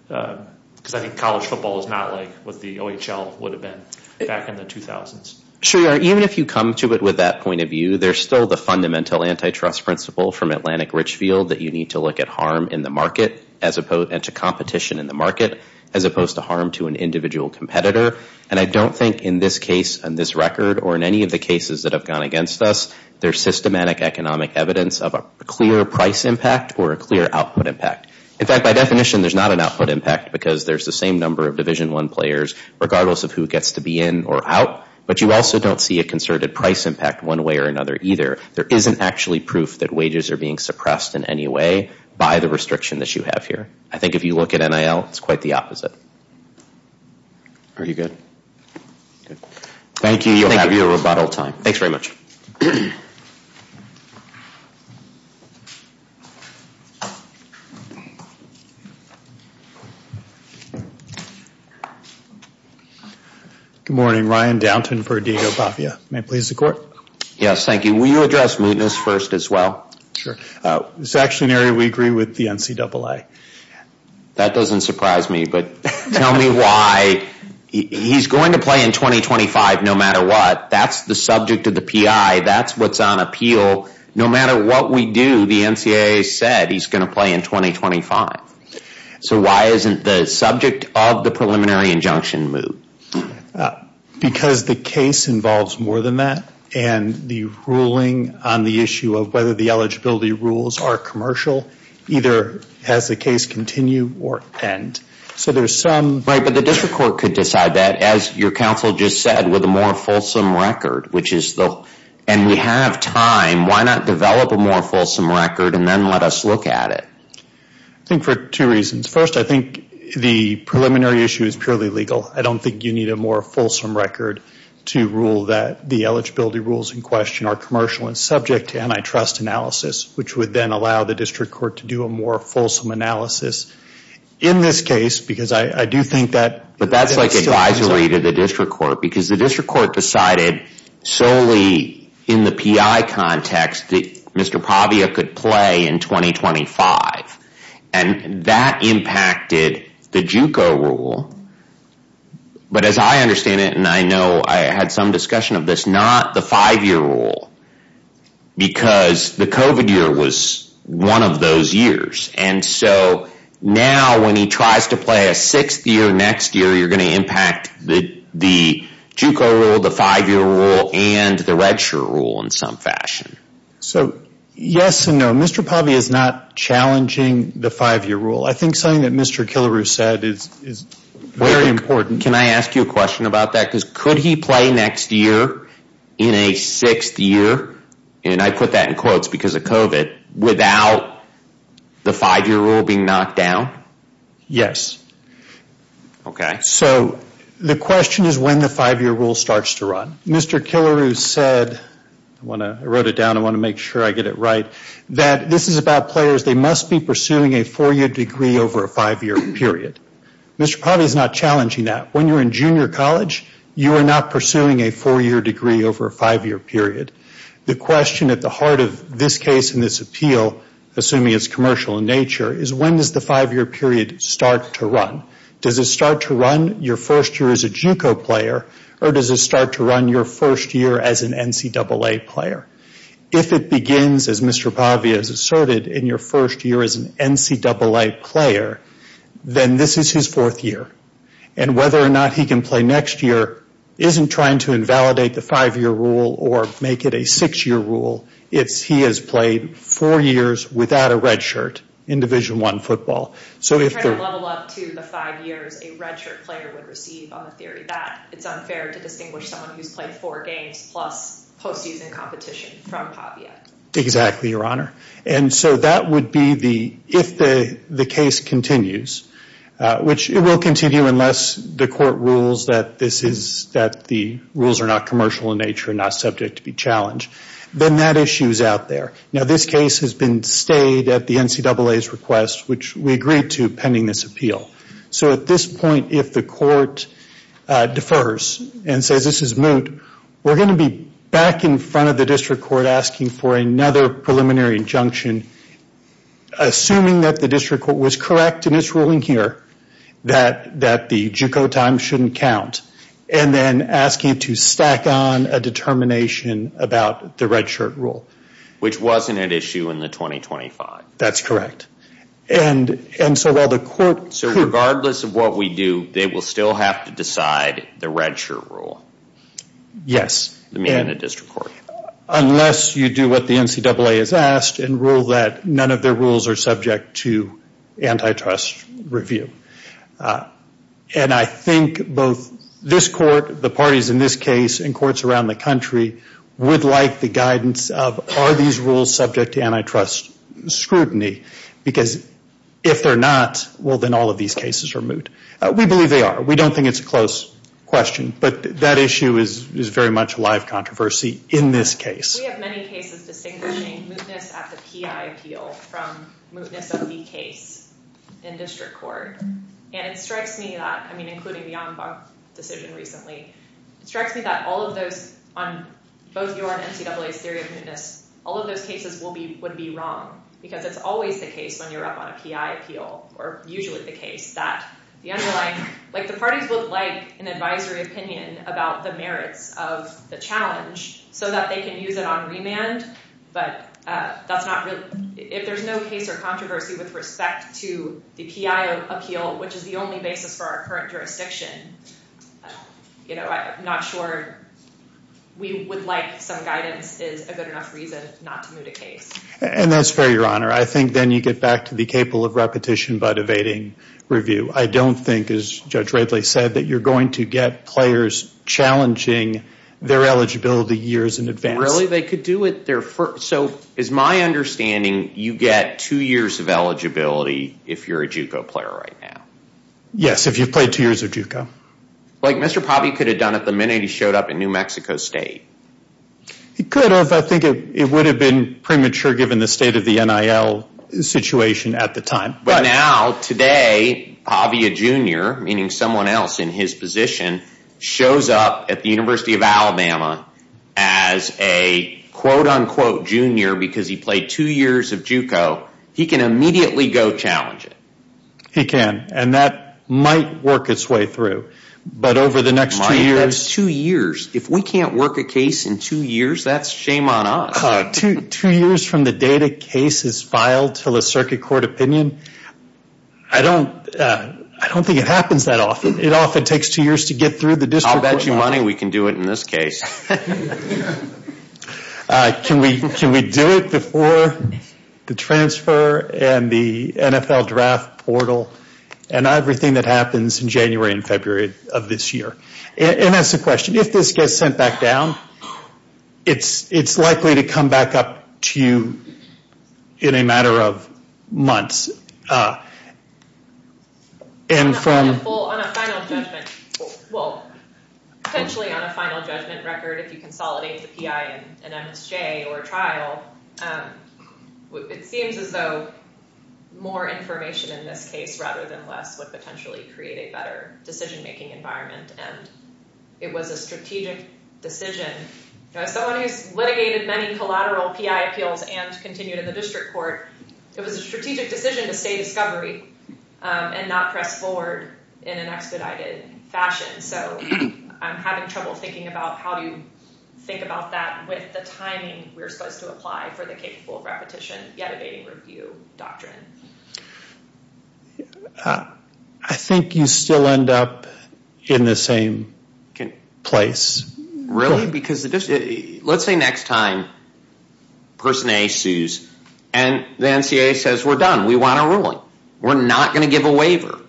because I think college football is not like what the OHL would have been back in the 2000s. Sure, even if you come to it with that point of view, there's still the fundamental antitrust principle from Atlantic Richfield that you need to look at harm in the market and to competition in the market as opposed to harm to an individual competitor. And I don't think in this case, on this record, or in any of the cases that have gone against us, there's systematic economic evidence of a clear price impact or a clear output impact. In fact, by definition, there's not an output impact because there's the same number of Division I players regardless of who gets to be in or out, but you also don't see a concerted price impact one way or another either. There isn't actually proof that wages are being suppressed in any way by the restriction that you have here. I think if you look at NIL, it's quite the opposite. Are you good? Thank you. You'll have your rebuttal time. Thanks very much. Good morning. Ryan Downton for Diego Papia. May I please have the floor? Yes, thank you. Will you address mootness first as well? Sure. It's actually an area we agree with the NCAA. That doesn't surprise me, but tell me why he's going to play in 2025 no matter what. That's the subject of the PI. That's what's on appeal. No matter what we do, the NCAA said he's going to play in 2025. So why isn't the subject of the preliminary injunction moot? Because the case involves more than that and the ruling on the issue of whether the eligibility rules are commercial, either has the case continue or end. But the district court could decide that as your counsel just said with a more fulsome record, and we have time, why not develop a more fulsome record and then let us look at it? I think for two reasons. First, I think the preliminary issue is purely legal. I don't think you need a more fulsome record to rule that the eligibility rules in question are commercial and subject to antitrust analysis, which would then allow the district court to do a more fulsome analysis in this case. Because I do think that- But that's like advisory to the district court because the district court decided solely in the PI context that Mr. Pavia could play in 2025. And that impacted the JUCO rule. But as I understand it, and I know I had some discussion of this, not the five-year rule because the COVID year was one of those years. And so now when he tries to play a sixth year next year, you're gonna impact the JUCO rule, the five-year rule and the red shirt rule in some fashion. So yes and no. Mr. Pavia is not challenging the five-year rule. I think something that Mr. Killebrew said is very important. Can I ask you a question about that? Could he play next year in a sixth year, and I put that in quotes because of COVID, without the five-year rule being knocked down? Yes. Okay. So the question is when the five-year rule starts to run. Mr. Killebrew said, I wrote it down, I wanna make sure I get it right, that this is about players. They must be pursuing a four-year degree over a five-year period. Mr. Pavia is not challenging that. When you're in junior college, you are not pursuing a four-year degree over a five-year period. The question at the heart of this case and this appeal, assuming it's commercial in nature, is when does the five-year period start to run? Does it start to run your first year as a JUCO player or does it start to run your first year as an NCAA player? If it begins, as Mr. Pavia has asserted, in your first year as an NCAA player, then this is his fourth year. And whether or not he can play next year isn't trying to invalidate the five-year rule or make it a six-year rule if he has played four years without a red shirt in Division I football. So if they're- If you're trying to level up to the five years a red shirt player would receive, on the theory that it's unfair to distinguish someone who's played four games plus post-season competition from Pavia. Exactly, Your Honor. And so that would be the, if the case continues, which it will continue unless the court rules that this is- that the rules are not commercial in nature and not subject to be challenged, then that issue is out there. Now, this case has been stayed at the NCAA's request, which we agreed to pending this appeal. So at this point, if the court defers and says, this is moot, we're going to be back in front of the district court asking for another preliminary injunction, assuming that the district court was correct in its ruling here, that the juco time shouldn't count, and then asking to stack on a determination about the red shirt rule. Which wasn't an issue in the 2025. That's correct. And so while the court- So regardless of what we do, they will still have to decide the red shirt rule? Yes. Unless you do what the NCAA has asked and rule that none of their rules are subject to antitrust review. And I think both this court, the parties in this case, and courts around the country would like the guidance of are these rules subject to antitrust scrutiny? Because if they're not, well, then all of these cases are moot. We believe they are. We don't think it's a close question, but that issue is very much live controversy in this case. We have many cases distinguishing mootness at the P.I. appeal from mootness of the case in district court. And it strikes me that, I mean, including the Anzac decision recently, it strikes me that all of those, on both your and NCAA's theory of mootness, all of those cases would be wrong. Because it's always the case when you're up on a P.I. appeal, or usually the case, that the underlying- like the parties would like an advisory opinion about the merits of the challenge so that they can use it on remand. But that's not really- if there's no case or controversy with respect to the P.I. appeal, which is the only basis for our current jurisdiction, you know, I'm not sure we would like some guidance is a good enough reason not to moot a case. And that's fair, Your Honor. I think then you get back to be capable of repetition by evading review. I don't think, as Judge Wrigley said, that you're going to get players challenging their eligibility years in advance. Really? They could do it their first- so it's my understanding you get two years of eligibility if you're a JUCO player right now. Yes, if you've played two years of JUCO. Like Mr. Pabia could have done it at the minute he showed up in New Mexico State. He could have. I think it would have been premature given the state of the NIL situation at the time. But now, today, Pabia Jr., meaning someone else in his position, shows up at the University of Alabama as a quote-unquote junior because he played two years of JUCO, he can immediately go challenge it. He can. And that might work its way through. But over the next two years- Two years. If we can't work a case in two years, that's shame on us. Two years from the date a case is filed till a circuit court opinion, I don't think it happens that often. It often takes two years to get through the district court- I'll bet you money we can do it in this case. Can we do it before the transfer and the NFL draft portal and everything that happens in January and February of this year? And that's the question. If this gets sent back down, it's likely to come back up to you in a matter of months. And from- On a final judgment, well, essentially on a final judgment record, if you consolidate the PI and MSJ or trial, it seems as though more information in this case rather than less would potentially create a better decision-making environment. And it was a strategic decision. Someone who's litigated many collateral PI appeals and continued in the district court, it was a strategic decision to stay discovery and not press forward in an expedited fashion. So I'm having trouble thinking about how do you think about that with the timing we're supposed to apply for the caseful repetition, yet evading review doctrine. I think you still end up in the same place. Really? Because the district- Let's say next time, person A issues, and the NCAA says, we're done, we want our ruling. We're not going to give a waiver.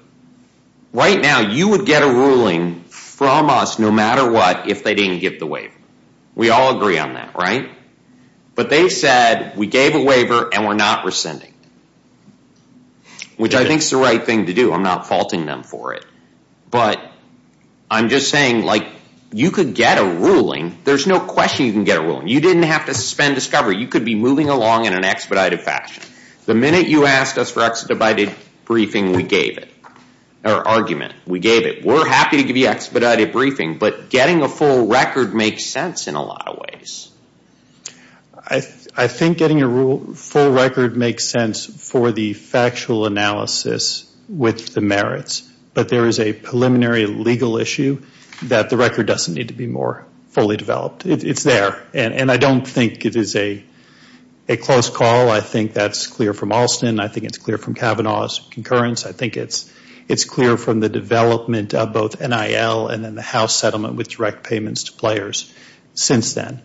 Right now, you would get a ruling from us, no matter what, if they didn't give the waiver. We all agree on that, right? But they said, we gave a waiver and we're not rescinding, which I think is the right thing to do. I'm not faulting them for it. But I'm just saying like, you could get a ruling. There's no question you can get a ruling. You didn't have to suspend discovery. You could be moving along in an expedited fashion. The minute you asked us for expedited briefing, we gave it, or argument, we gave it. We're happy to give you expedited briefing, but getting a full record makes sense in a lot of ways. I think getting a full record makes sense for the factual analysis with the merits, but there is a preliminary legal issue that the record doesn't need to be more fully developed. It's there. And I don't think it is a close call. I think that's clear from Alston. I think it's clear from Kavanaugh's concurrence. I think it's clear from the development of both NIL and then the house settlement with direct payments to players since then.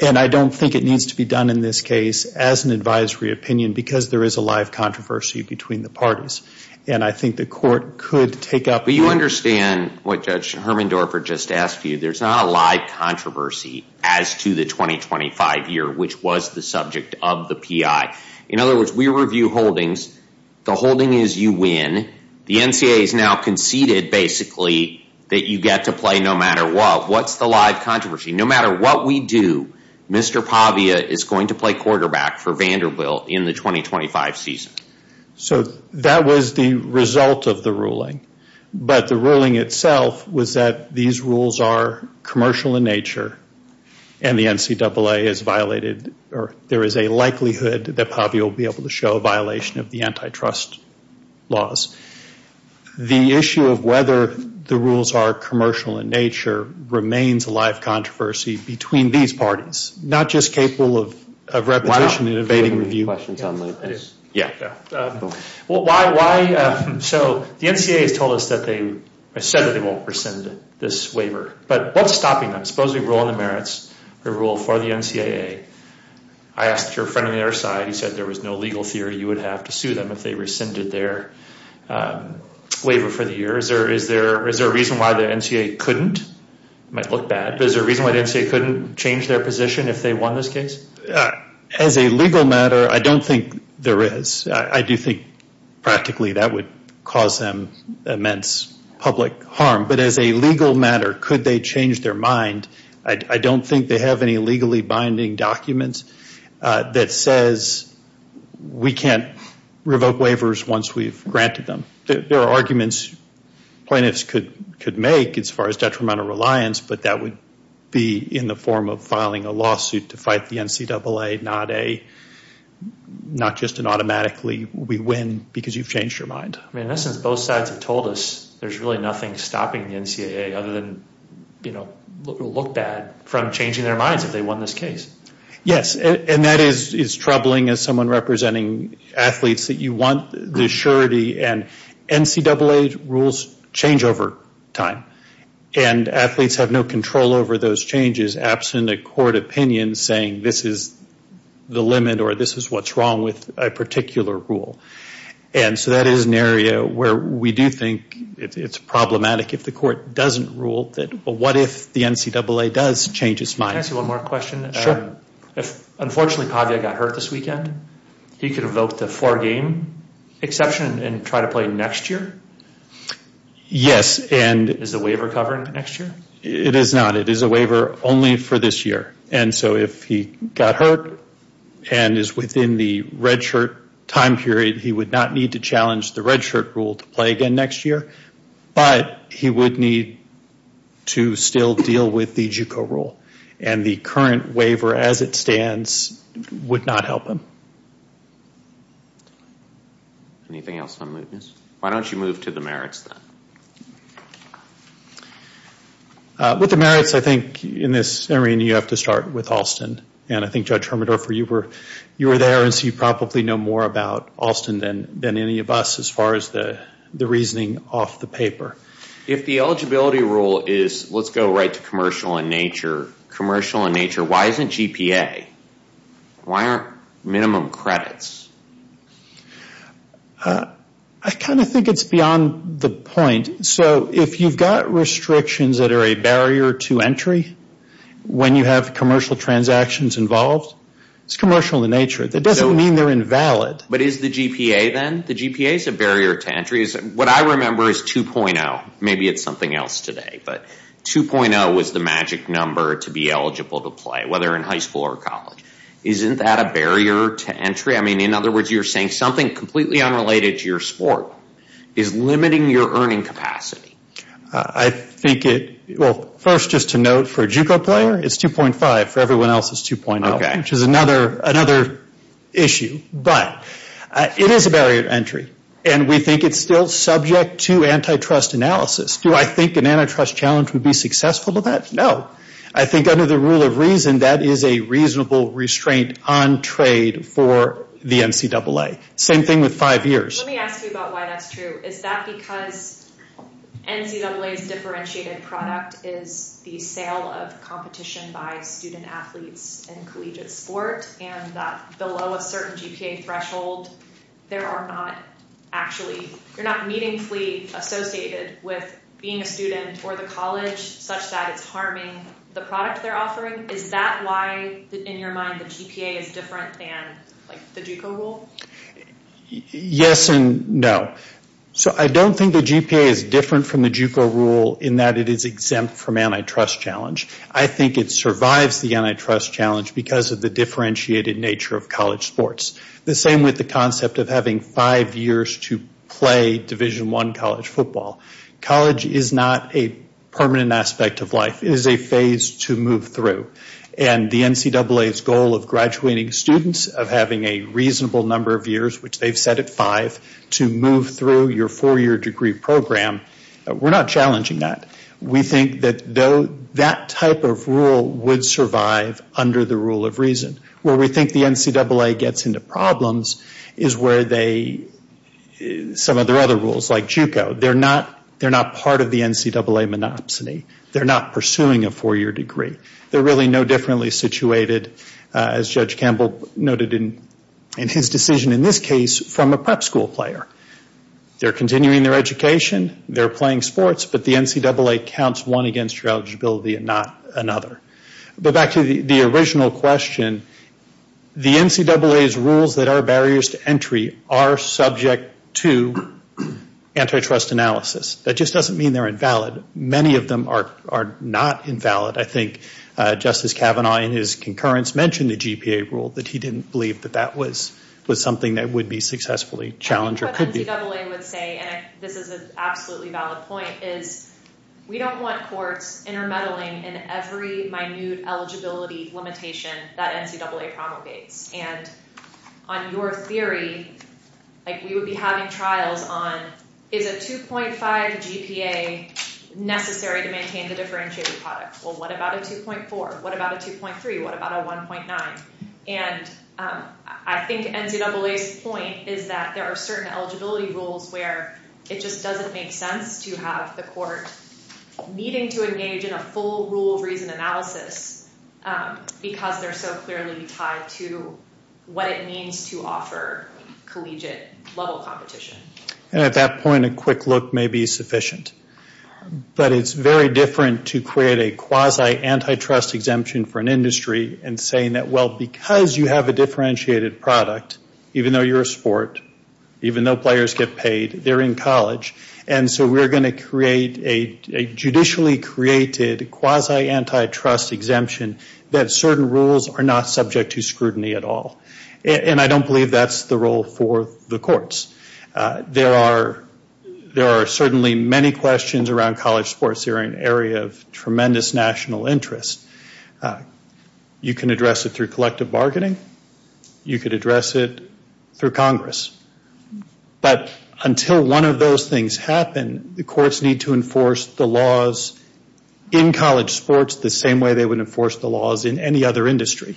And I don't think it needs to be done in this case as an advisory opinion because there is a live controversy between the parties. And I think the court could take up- Do you understand what Judge Hermendorfer just asked you? There's not a live controversy as to the 2025 year, which was the subject of the PI. In other words, we review holdings. The holding is you win. The NCAA has now conceded, basically, that you get to play no matter what. What's the live controversy? No matter what we do, Mr. Pavia is going to play quarterback for Vanderbilt in the 2025 season. So that was the result of the ruling. But the ruling itself was that these rules are commercial in nature and the NCAA is violated, or there is a likelihood that Pavia will be able to show a violation of the antitrust laws. The issue of whether the rules are commercial in nature remains a live controversy between these parties, not just capable of revocation and evading review. I have a question, John, if that is- Yeah. So the NCAA has told us that they said they won't rescind this waiver, but what's stopping them? Supposedly, we're on the merits, we rule for the NCAA. I asked your friend on the other side, he said there was no legal theory you would have to sue them if they rescinded their waiver for the year. Is there a reason why the NCAA couldn't? It might look bad, but is there a reason why the NCAA couldn't change their position if they won this case? As a legal matter, I don't think there is. I do think, practically, that would cause them immense public harm. But as a legal matter, could they change their mind? I don't think they have any legally binding documents that says we can't revoke waivers once we've granted them. There are arguments plaintiffs could make as far as detrimental reliance, but that would be in the form of filing a lawsuit to fight the NCAA, not just an automatically, we win because you've changed your mind. I mean, this is both sides have told us there's really nothing stopping the NCAA other than look bad from changing their minds if they won this case. Yes, and that is troubling as someone representing athletes that you want the surety and NCAA rules change over time and athletes have no control over those changes absent a court opinion saying this is the limit or this is what's wrong with a particular rule. And so that is an area where we do think it's problematic if the court doesn't rule that what if the NCAA does change its mind? Can I ask you one more question? Unfortunately, Padre got hurt this weekend. He could revoke the four game exception and try to play next year? Yes, and- Is the waiver covering next year? It is not. It is a waiver only for this year. And so if he got hurt and is within the red shirt time period, he would not need to challenge the red shirt rule to play again next year. But he would need to still deal with the JUCO rule and the current waiver as it stands would not help him. Anything else on movements? Why don't you move to the merits then? With the merits, I think in this area, you have to start with Alston and I think Judge Hermodorfer you were there as you probably know more about Alston than any of us as far as the reasoning off the paper. If the eligibility rule is, let's go right to commercial in nature, commercial in nature, why isn't GPA? Why aren't minimum credits? I kind of think it's beyond the point. So if you've got restrictions that are a barrier to entry when you have commercial transactions involved, it's commercial in nature. That doesn't mean they're invalid. But is the GPA then? The GPA is a barrier to entry. What I remember is 2.0. Maybe it's something else today, but 2.0 was the magic number to be eligible to play, whether in high school or college. Isn't that a barrier to entry? I mean, in other words, you're saying something completely unrelated to your sport is limiting your earning capacity. I think it, well, first just to note for a JUCO player, it's 2.5 for everyone else is 2.0, which is another issue. But it is a barrier to entry. And we think it's still subject to antitrust analysis. Do I think an antitrust challenge would be successful with that? No. I think under the rule of reason, that is a reasonable restraint on trade for the NCAA. Same thing with five years. Let me ask you about why that's true. Is that because NCAA's differentiated product is the sale of competition by student athletes in collegiate sport? And below a certain GPA threshold, there are not actually, you're not meaningfully associated with being a student or the college such that it's harming the product they're offering. Is that why, in your mind, the GPA is different than the JUCO rule? Yes and no. So I don't think the GPA is different from the JUCO rule in that it is exempt from antitrust challenge. I think it survives the antitrust challenge because of the differentiated nature of college sports. The same with the concept of having five years to play Division I college football. College is not a permanent aspect of life. It is a phase to move through. And the NCAA's goal of graduating students, of having a reasonable number of years, which they've set at five, to move through your four-year degree program, we're not challenging that. We think that though that type of rule would survive under the rule of reason. Where we think the NCAA gets into problems is where they, some of their other rules like JUCO. They're not part of the NCAA monopsony. They're not pursuing a four-year degree. They're really no differently situated, as Judge Campbell noted in his decision in this case, from a prep school player. They're continuing their education. They're playing sports, but the NCAA counts one against your eligibility and not another. But back to the original question, the NCAA's rules that are barriers to entry are subject to antitrust analysis. That just doesn't mean they're invalid. Many of them are not invalid. I think Justice Kavanaugh in his concurrence mentioned the GPA rule, but he didn't believe that that was something that would be successfully challenged or could be. NCAA would say, and this is an absolutely valid point, is we don't want courts intermeddling in every minute eligibility limitation that NCAA promulgates. On your theory, we would be having trials on, is a 2.5 GPA necessary to maintain a differentiated product? Well, what about a 2.4? What about a 2.3? What about a 1.9? I think NCAA's point is that there are certain eligibility rules where it just doesn't make sense to have the court needing to engage in a full rule reading analysis because they're so clearly tied to what it means to offer collegiate level competition. At that point, a quick look may be sufficient, but it's very different to create a quasi antitrust exemption for an industry and saying that, well, because you have a differentiated product, even though you're a sport, even though players get paid, they're in college, and so we're going to create a judicially created quasi antitrust exemption that certain rules are not subject to scrutiny at all. And I don't believe that's the role for the courts. There are certainly many questions around college sports that are an area of tremendous national interest. You can address it through collective bargaining. You could address it through Congress. But until one of those things happen, the courts need to enforce the laws in college sports the same way they would enforce the laws in any other industry.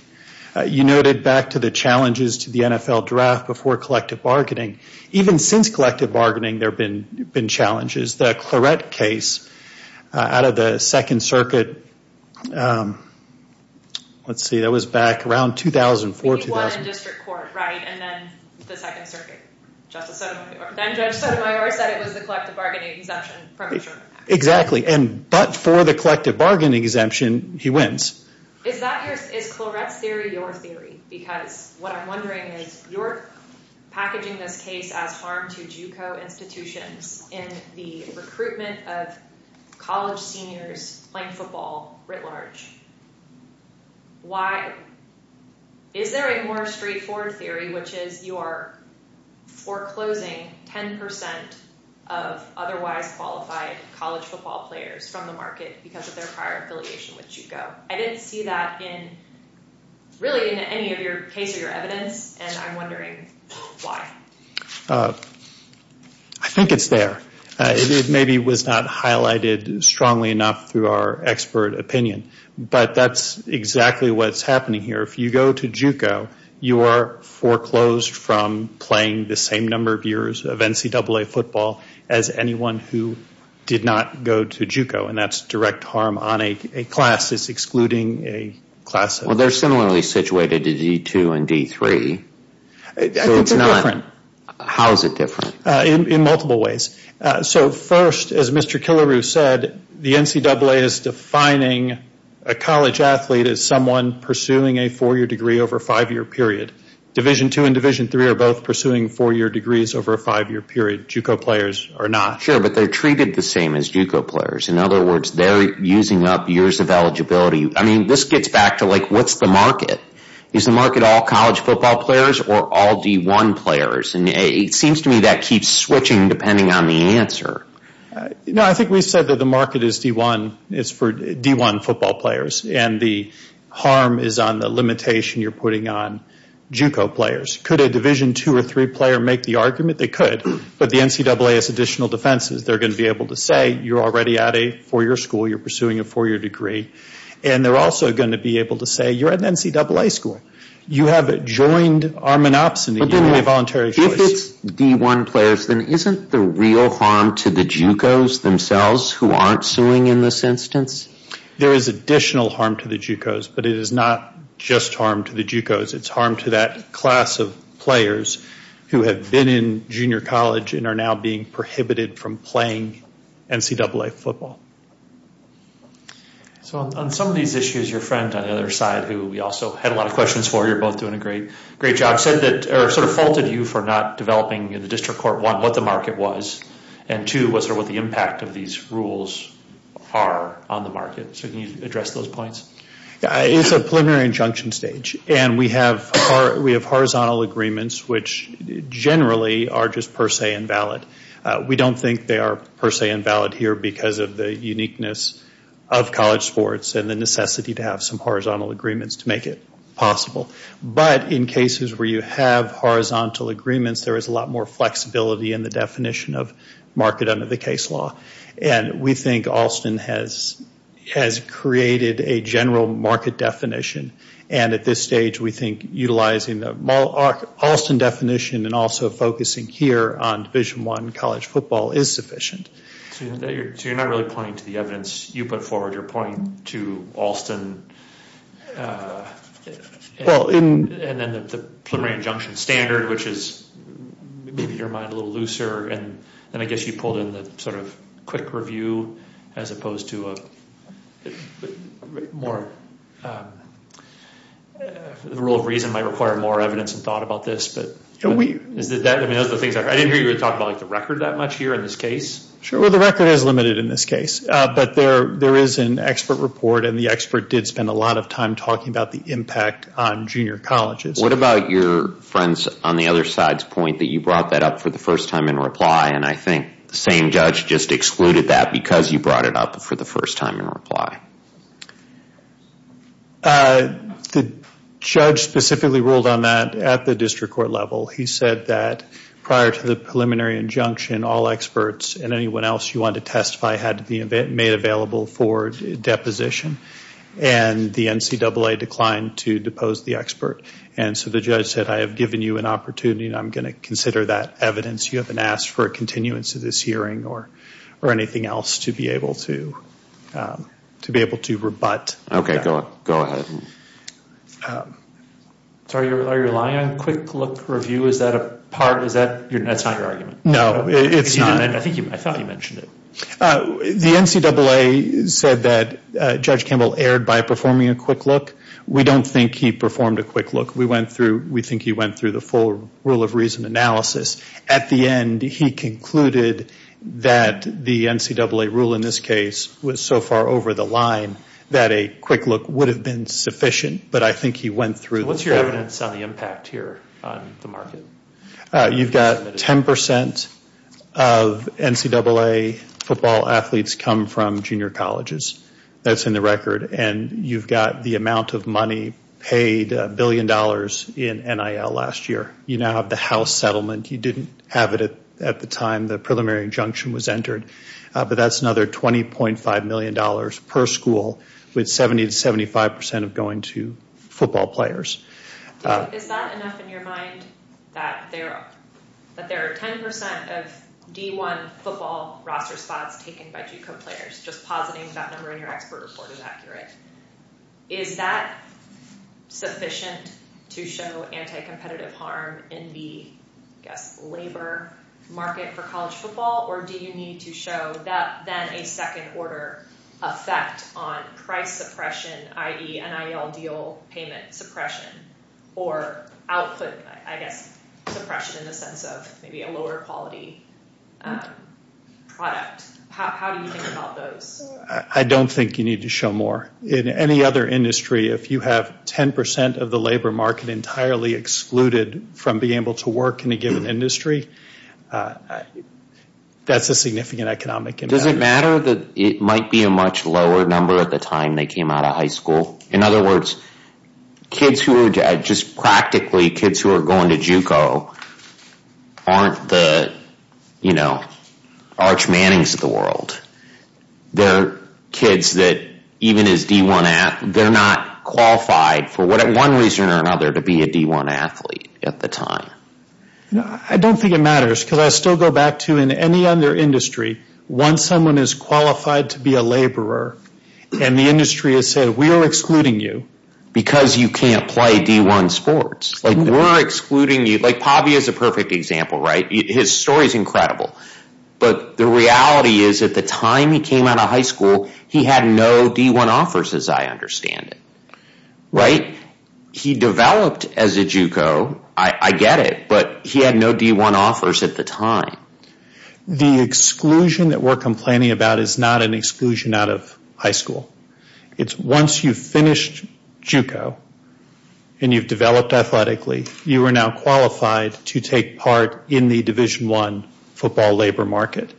You noted back to the challenges to the NFL draft before collective bargaining. Even since collective bargaining, there have been challenges. The Claret case out of the Second Circuit, let's see, that was back around 2000, before 2000. The Washington District Court, right, and then the Second Circuit, Justice O'Connor. Then Justice O'Connor said it was a collective bargaining exemption, premature. Exactly. And but for the collective bargaining exemption, he wins. Is Claret's theory your theory? Because what I'm wondering is, you're packaging this case out of harm to JUCO institutions in the recruitment of college seniors playing football writ large. Why? Is there a more straightforward theory, which is you are foreclosing 10% of otherwise qualified college football players from the market because of their prior affiliation with JUCO. I didn't see that in, really in any of your case or your evidence. And I'm wondering why. I think it's there. It is maybe was not highlighted strongly enough through our expert opinion. But that's exactly what's happening here. If you go to JUCO, you are foreclosed from playing the same number of years of NCAA football as anyone who did not go to JUCO. And that's direct harm on a class is excluding a class. Well, they're similarly situated to D2 and D3. How is it different? In multiple ways. So first, as Mr. Killaroo said, the NCAA is defining a college athlete as someone pursuing a four-year degree over a five-year period. Division II and Division III are both pursuing four-year degrees over a five-year period. JUCO players are not. Sure, but they're treated the same as JUCO players. In other words, they're using up years of eligibility. I mean, this gets back to like, what's the market? Is the market all college football players or all D1 players? And it seems to me that keeps switching depending on the answer. I think we said that the market is D1. It's for D1 football players. And the harm is on the limitation you're putting on JUCO players. Could a Division II or III player make the argument? They could. But the NCAA has additional defenses. They're going to be able to say you're already at a four-year school. You're pursuing a four-year degree. And they're also going to be able to say you're at an NCAA school. You have joined arm and ops in the U.S. If it's D1 players, then isn't the real harm to the JUCOs themselves who aren't suing in this instance? There is additional harm to the JUCOs, but it is not just harm to the JUCOs. It's harm to that class of players who have been in junior college and are now being prohibited from playing NCAA football. So on some of these issues, your friend on the other side, who we also had a lot of questions for, you're both doing a great job, said that sort of faulted you for not developing in the district court, one, what the market was, and two, what the impact of these rules are on the market. So can you address those points? It's a preliminary injunction stage. And we have horizontal agreements, which generally are just per se invalid. We don't think they are per se invalid here because of the uniqueness of college sports and the necessity to have some horizontal agreements to make it possible. But in cases where you have horizontal agreements, there is a lot more flexibility in the definition of market under the case law. And we think Alston has created a general market definition. And at this stage, we think utilizing the Alston definition and also focusing here on Division I college football is sufficient. So you're not really pointing to the evidence you put forward. You're pointing to Alston and then the preliminary injunction standard, which is maybe your mind a little looser. And then I guess you pulled in the sort of quick review as opposed to a more the rule of reason might require more evidence and thought about this. But I didn't hear you talking about the record that much here in this case. Sure. Well, the record is limited in this case. But there is an expert report and the expert did spend a lot of time talking about the impact on junior colleges. What about your friends on the other side's point that you brought that up for the first time in reply? And I think the same judge just excluded that because you brought it up for the first time in reply. The judge specifically ruled on that at the district court level. He said that prior to the preliminary injunction, all experts and anyone else you want to testify had to be made available for deposition. And the NCAA declined to depose the expert. And so the judge said, I have given you an opportunity and I'm going to consider that evidence. You haven't asked for a continuance of this hearing or anything else to be able to to make that decision. To be able to rebut. OK, go ahead. So are you relying on quick look review? Is that a part? Is that your next argument? No, it's not. And I think I thought you mentioned it. The NCAA said that Judge Campbell erred by performing a quick look. We don't think he performed a quick look. We went through, we think he went through the full rule of reason analysis. At the end, he concluded that the NCAA rule in this case was so far over the line that a quick look would have been sufficient. But I think he went through what's your evidence on the impact here on the market? You've got 10% of NCAA football athletes come from junior colleges. That's in the record. And you've got the amount of money paid a billion dollars in NIL last year. You now have the house settlement. You didn't have it at the time the preliminary injunction was entered. But that's another $20.5 million per school with 70 to 75% of going to football players. Is that enough in your mind that there are 10% of D1 football roster spots taken by Duke co-players? Just positing that number in your expert report is accurate. Is that sufficient to show anti-competitive harm in the labor market for college football? Or do you need to show that then a second order effect on price suppression, i.e. NIL deal payment suppression or output, I guess, suppression in the sense of maybe a lower quality product. How do you think about those? I don't think you need to show more. In any other industry, if you have 10% of the labor market entirely excluded from being able to work in a given industry, that's a significant economic impact. Does it matter that it might be a much lower number at the time they came out of high school? In other words, kids who are just practically kids who are going to Juco aren't the, you know, Arch Mannings of the world. They're kids that even as D1, they're not qualified for one reason or another to be a D1 athlete at the time. I don't think it matters because I still go back to in any other industry, once someone is qualified to be a laborer and the industry has said, we are excluding you because you can't play D1 sports. Like we're excluding you. Like Pabby is a perfect example, right? His story is incredible. But the reality is at the time he came out of high school, he had no D1 offers, as I understand it. Right. He developed as a Juco. I get it. But he had no D1 offers at the time. The exclusion that we're complaining about is not an exclusion out of high school. It's once you've finished Juco and you've developed athletically, you are now qualified to take part in the division one football labor market.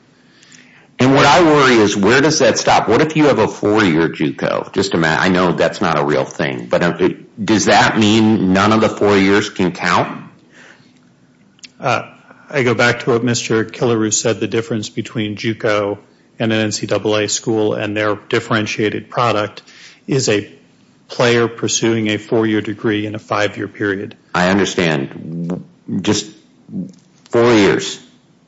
And what I worry is where does that stop? What if you have a four year Juco? Just a minute. I know that's not a real thing, but does that mean none of the four years can count? I go back to what Mr. Kilaru said, the difference between Juco and the NCAA school and their differentiated product is a player pursuing a four year degree in a five year period. I understand. Just four years.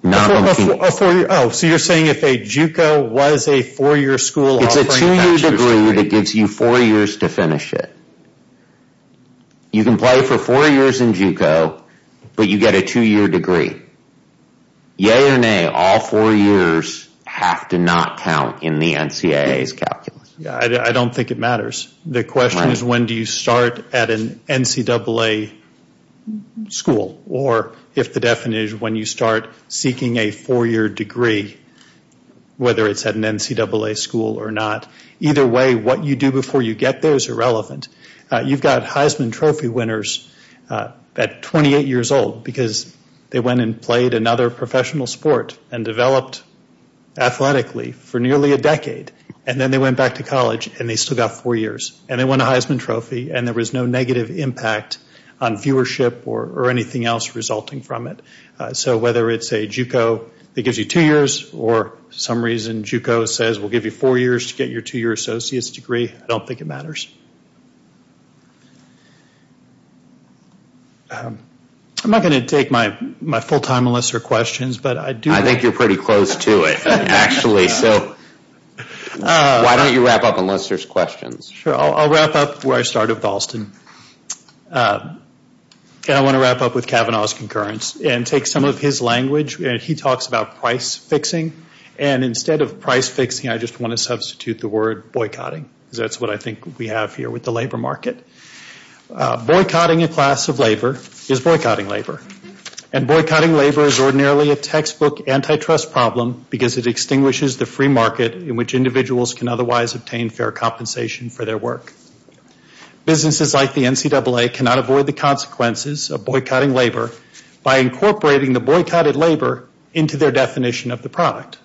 Oh, so you're saying if a Juco was a four year school... It's a two year degree that gives you four years to finish it. You can play for four years in Juco, but you get a two year degree. Yay or nay, all four years have to not count in the NCAA's calculus. Yeah, I don't think it matters. The question is when do you start at an NCAA school or if the definition when you start seeking a four year degree, whether it's at an NCAA school or not. Either way, what you do before you get those are relevant. You've got Heisman Trophy winners at 28 years old because they went and played another professional sport and developed athletically for nearly a decade. And then they went back to college and they still got four years and they won a Heisman Trophy and there was no negative impact on viewership or anything else resulting from it. So whether it's a Juco that gives you two years or some reason Juco says we'll give you four years to get your two year associate's degree, I don't think it matters. I'm not gonna take my full time unless there are questions, but I do- I think you're pretty close to it actually. Why don't you wrap up unless there's questions? Sure, I'll wrap up where I started, Dalston. Okay, I wanna wrap up with Kavanaugh's concurrence and take some of his language. He talks about price fixing and instead of price fixing, I just wanna substitute the word boycotting. That's what I think we have here with the labor market. Boycotting a class of labor is boycotting labor and boycotting labor is ordinarily a textbook antitrust problem because it extinguishes the free market in which individuals can otherwise obtain fair compensation for their work. Businesses like the NCAA cannot avoid the consequences of boycotting labor by incorporating the boycotted labor into their definition of the product.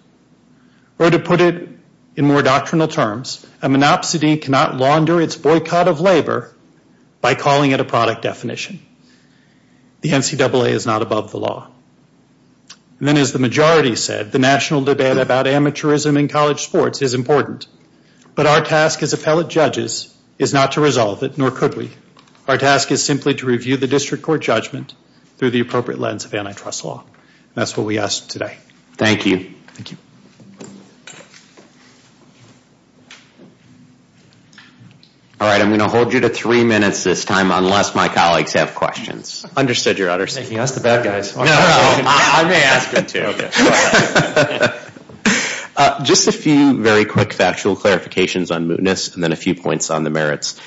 Or to put it in more doctrinal terms, a monopsony cannot launder its boycott of labor by calling it a product definition. The NCAA is not above the law. And then as the majority said, the national debate about amateurism in college sports is important, but our task as appellate judges is not to resolve it, nor could we. Our task is simply to review the district court judgment through the appropriate lens of antitrust law. That's what we asked today. Thank you. All right. I'm going to hold you to three minutes this time, unless my colleagues have questions. I understood your understanding. Ask the bad guys. Just a few very quick factual clarifications on mootness, and then a few points on the merits.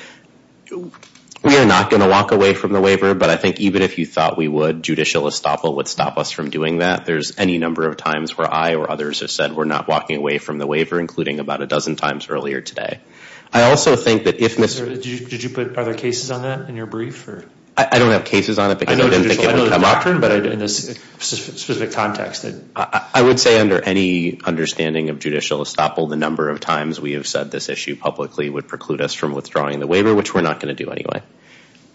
We are not going to walk away from the waiver, but I think even if you thought we would, judicial estoppel would stop us from doing that. There's any number of times where I or others have said we're not walking away from the waiver, including about a dozen times earlier today. I also think that if Mr. Did you put other cases on that in your brief or? I don't have cases on it, but I didn't think it was a mockery, but in this specific context, I would say under any understanding of judicial estoppel, the number of times we have said this issue publicly would preclude us from withdrawing the waiver, which we're not going to do anyway.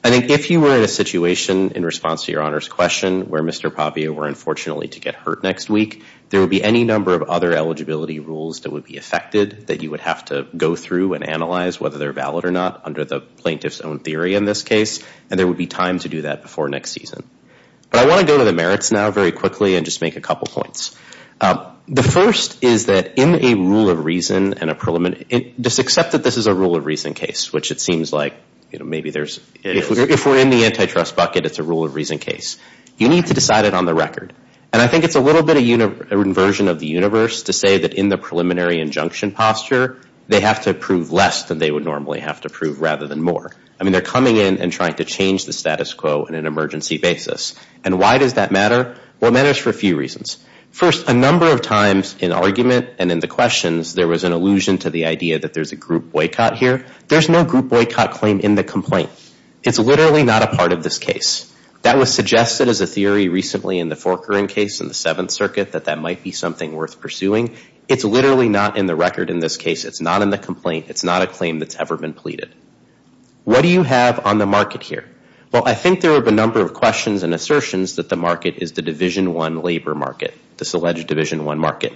I think if you were in a situation in response to your honor's question where Mr. Pavia were unfortunately to get hurt next week, there would be any number of other eligibility rules that would be affected that you would have to go through and analyze whether they're valid or not under the plaintiff's own theory in this case. And there would be time to do that before next season. But I want to go to the merits now very quickly and just make a couple points. The first is that in a rule of reason and a preliminary, just accept that this is a rule of reason case, which it seems like, you know, maybe there's if we're in the antitrust bucket, it's a rule of reason case. You need to decide it on the record. And I think it's a little bit of a version of the universe to say that in the preliminary injunction posture, they have to prove less than they would normally have to prove rather than more. I mean, they're coming in and trying to change the status quo in an emergency basis. And why does that matter? Well, that is for a few reasons. First, a number of times in argument and in the questions, there was an allusion to the idea that there's a group boycott here. There's no group boycott claim in the complaint. It's literally not a part of this case. That was suggested as a theory recently in the Forker case in the Seventh Circuit that that might be something worth pursuing. It's literally not in the record in this case. It's not in the complaint. It's not a claim that's ever been pleaded. What do you have on the market here? Well, I think there are a number of questions and assertions that the market is the division one labor market, this alleged division one market.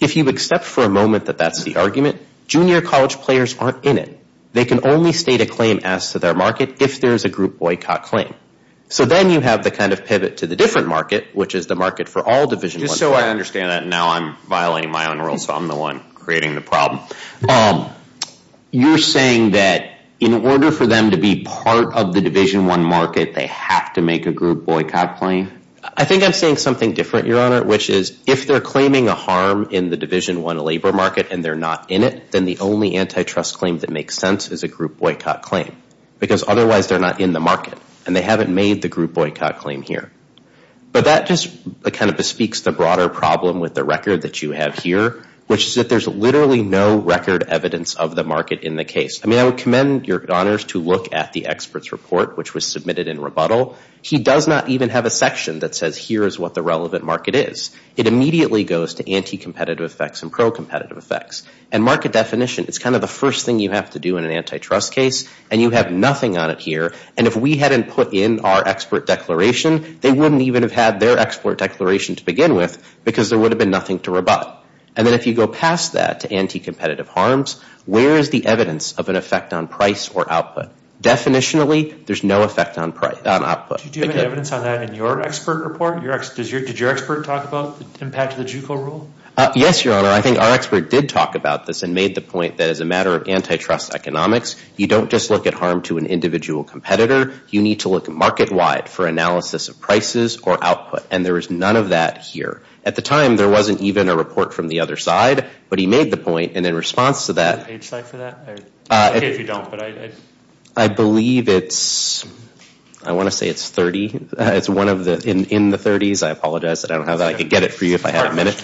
If you accept for a moment that that's the argument, junior college players aren't in it. They can only state a claim as to their market if there's a group boycott claim. So then you have the kind of pivot to the different market, which is the market for all divisions. So I understand that now I'm violating my own rules. I'm the one creating the problem. You're saying that in order for them to be part of the division one market, they have to make a group boycott claim. I think I'm saying something different, Your Honor, which is if they're claiming a harm in the division one labor market and they're not in it, then the only antitrust claim that makes sense is a group boycott claim because otherwise they're not in the market and they haven't made the group boycott claim here. But that just kind of bespeaks the broader problem with the record that you have here, which is that there's literally no record evidence of the market in the case. I mean, I would commend Your Honors to look at the expert's report, which was submitted in rebuttal. He does not even have a section that says here is what the relevant market is. It immediately goes to anti-competitive effects and pro-competitive effects. And market definition is kind of the first thing you have to do in an antitrust case. And you have nothing on it here. And if we hadn't put in our expert declaration, they wouldn't even have had their export declaration to begin with because there would have been nothing to rebut. And then if you go past that to anti-competitive harms, where is the evidence of an effect on price or output? Definitionally, there's no effect on price, on output. Do you have any evidence on that in your expert report? Did your expert talk about impacts of the JUCO rule? Yes, Your Honor. I think our expert did talk about this and made the point that as a matter of antitrust economics, you don't just look at harm to an individual competitor. You need to look market wide for analysis of prices or output. And there is none of that here. At the time, there wasn't even a report from the other side, but he made the point. And in response to that, I believe it's, I want to say it's 30. It's one of the in the 30s. I apologize. I don't have that. I could get it for you if I had a minute.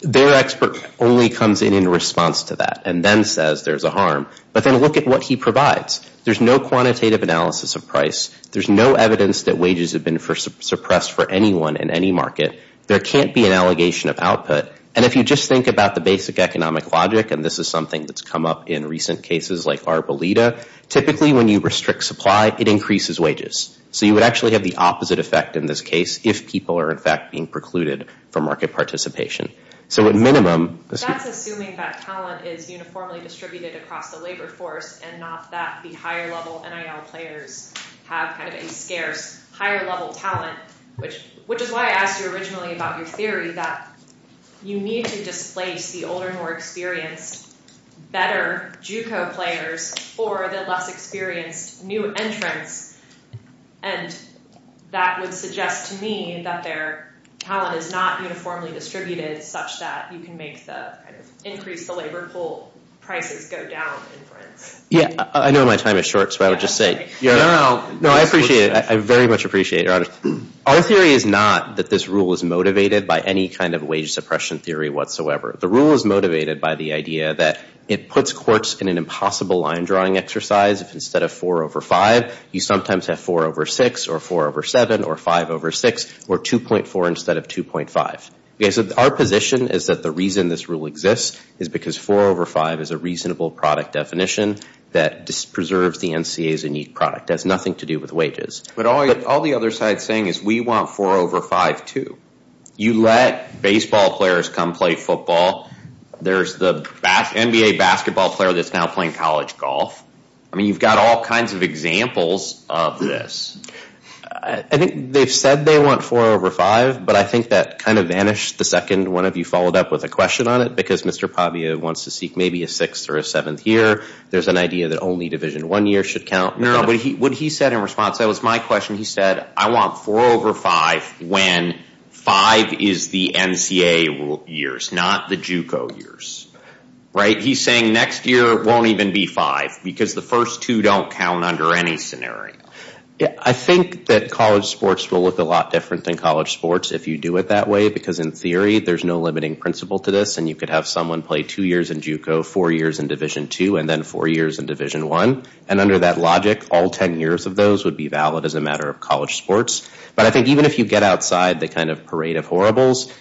Their expert only comes in in response to that and then says there's a harm. But then look at what he provides. There's no quantitative analysis of price. There's no evidence that wages have been suppressed for anyone in any market. There can't be an allegation of output. And if you just think about the basic economic logic, and this is something that's come up in recent cases like Arboleda, typically when you restrict supply, it increases wages. So you would actually have the opposite effect in this case if people are in fact being precluded for market participation. So at minimum, that's assuming that talent is uniformly distributed across the labor force and not that the higher level NIL players have to be scared. Higher level talent, which is why I asked you originally about your theory that you need to displace the older, more experienced, better JUCO players or the less experienced new entrants. And that would suggest to me that their talent is not uniformly distributed such that you can make the increase the labor pool prices go down. Yeah, I know my time is short, so I would just say, no, I appreciate it. I very much appreciate it. Our theory is not that this rule is motivated by any kind of wage suppression theory whatsoever. The rule is motivated by the idea that it puts courts in an impossible line drawing exercise. If instead of 4 over 5, you sometimes have 4 over 6 or 4 over 7 or 5 over 6 or 2.4 instead of 2.5. Our position is that the reason this rule exists is because 4 over 5 is a reasonable product definition that preserves the NCA's unique product. It has nothing to do with wages. But all the other side saying we want 4 over 5 too. You let baseball players come play football. There's the NBA basketball player that's now playing college golf. I mean, you've got all kinds of examples of this. I think they said they want 4 over 5, but I think that kind of vanished the second one of you followed up with a question on it because Mr. Pavia wants to seek maybe a 6th or a 7th year. There's an idea that only division one year should count. What he said in response that was my question. I want 4 over 5 when 5 is the NCA years, not the JUCO years. He's saying next year won't even be 5 because the first two don't count under any scenario. I think that college sports will look a lot different than college sports if you do it that way, because in theory, there's no limiting principle to this and you could have someone play two years in JUCO, four years in division two, and then four years in division one. And under that logic, all 10 years of those would be valid as a matter of college sports. But I think even if you get outside the kind of parade of horribles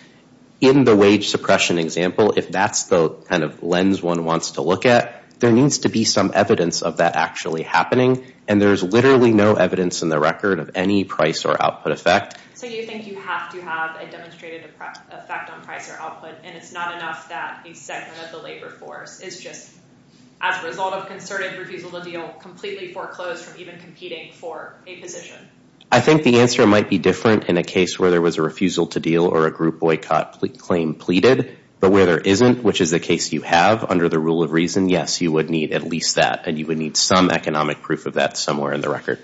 in the wage suppression example, if that's the kind of lens one wants to look at, there needs to be some evidence of that actually happening. And there's literally no evidence in the record of any price or output effect. So you think you have to have a demonstrated effect on price or output, and it's not enough that the segment of the labor force is just as a result of concerning for people to be able to completely foreclose or even competing for a position? I think the answer might be different in a case where there was a refusal to deal or a group boycott claim pleaded. But where there isn't, which is the case you have under the rule of reason, yes, you would need at least that and you would need some economic proof of that somewhere in the record.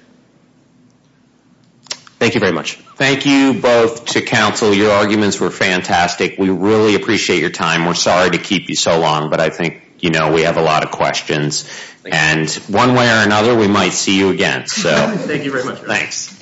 Thank you very much. Thank you both to counsel. Your arguments were fantastic. We really appreciate your time. We're sorry to keep you so long, but I think, you know, we have a lot of questions and one way or another, we might see you again. So thank you very much. Thanks.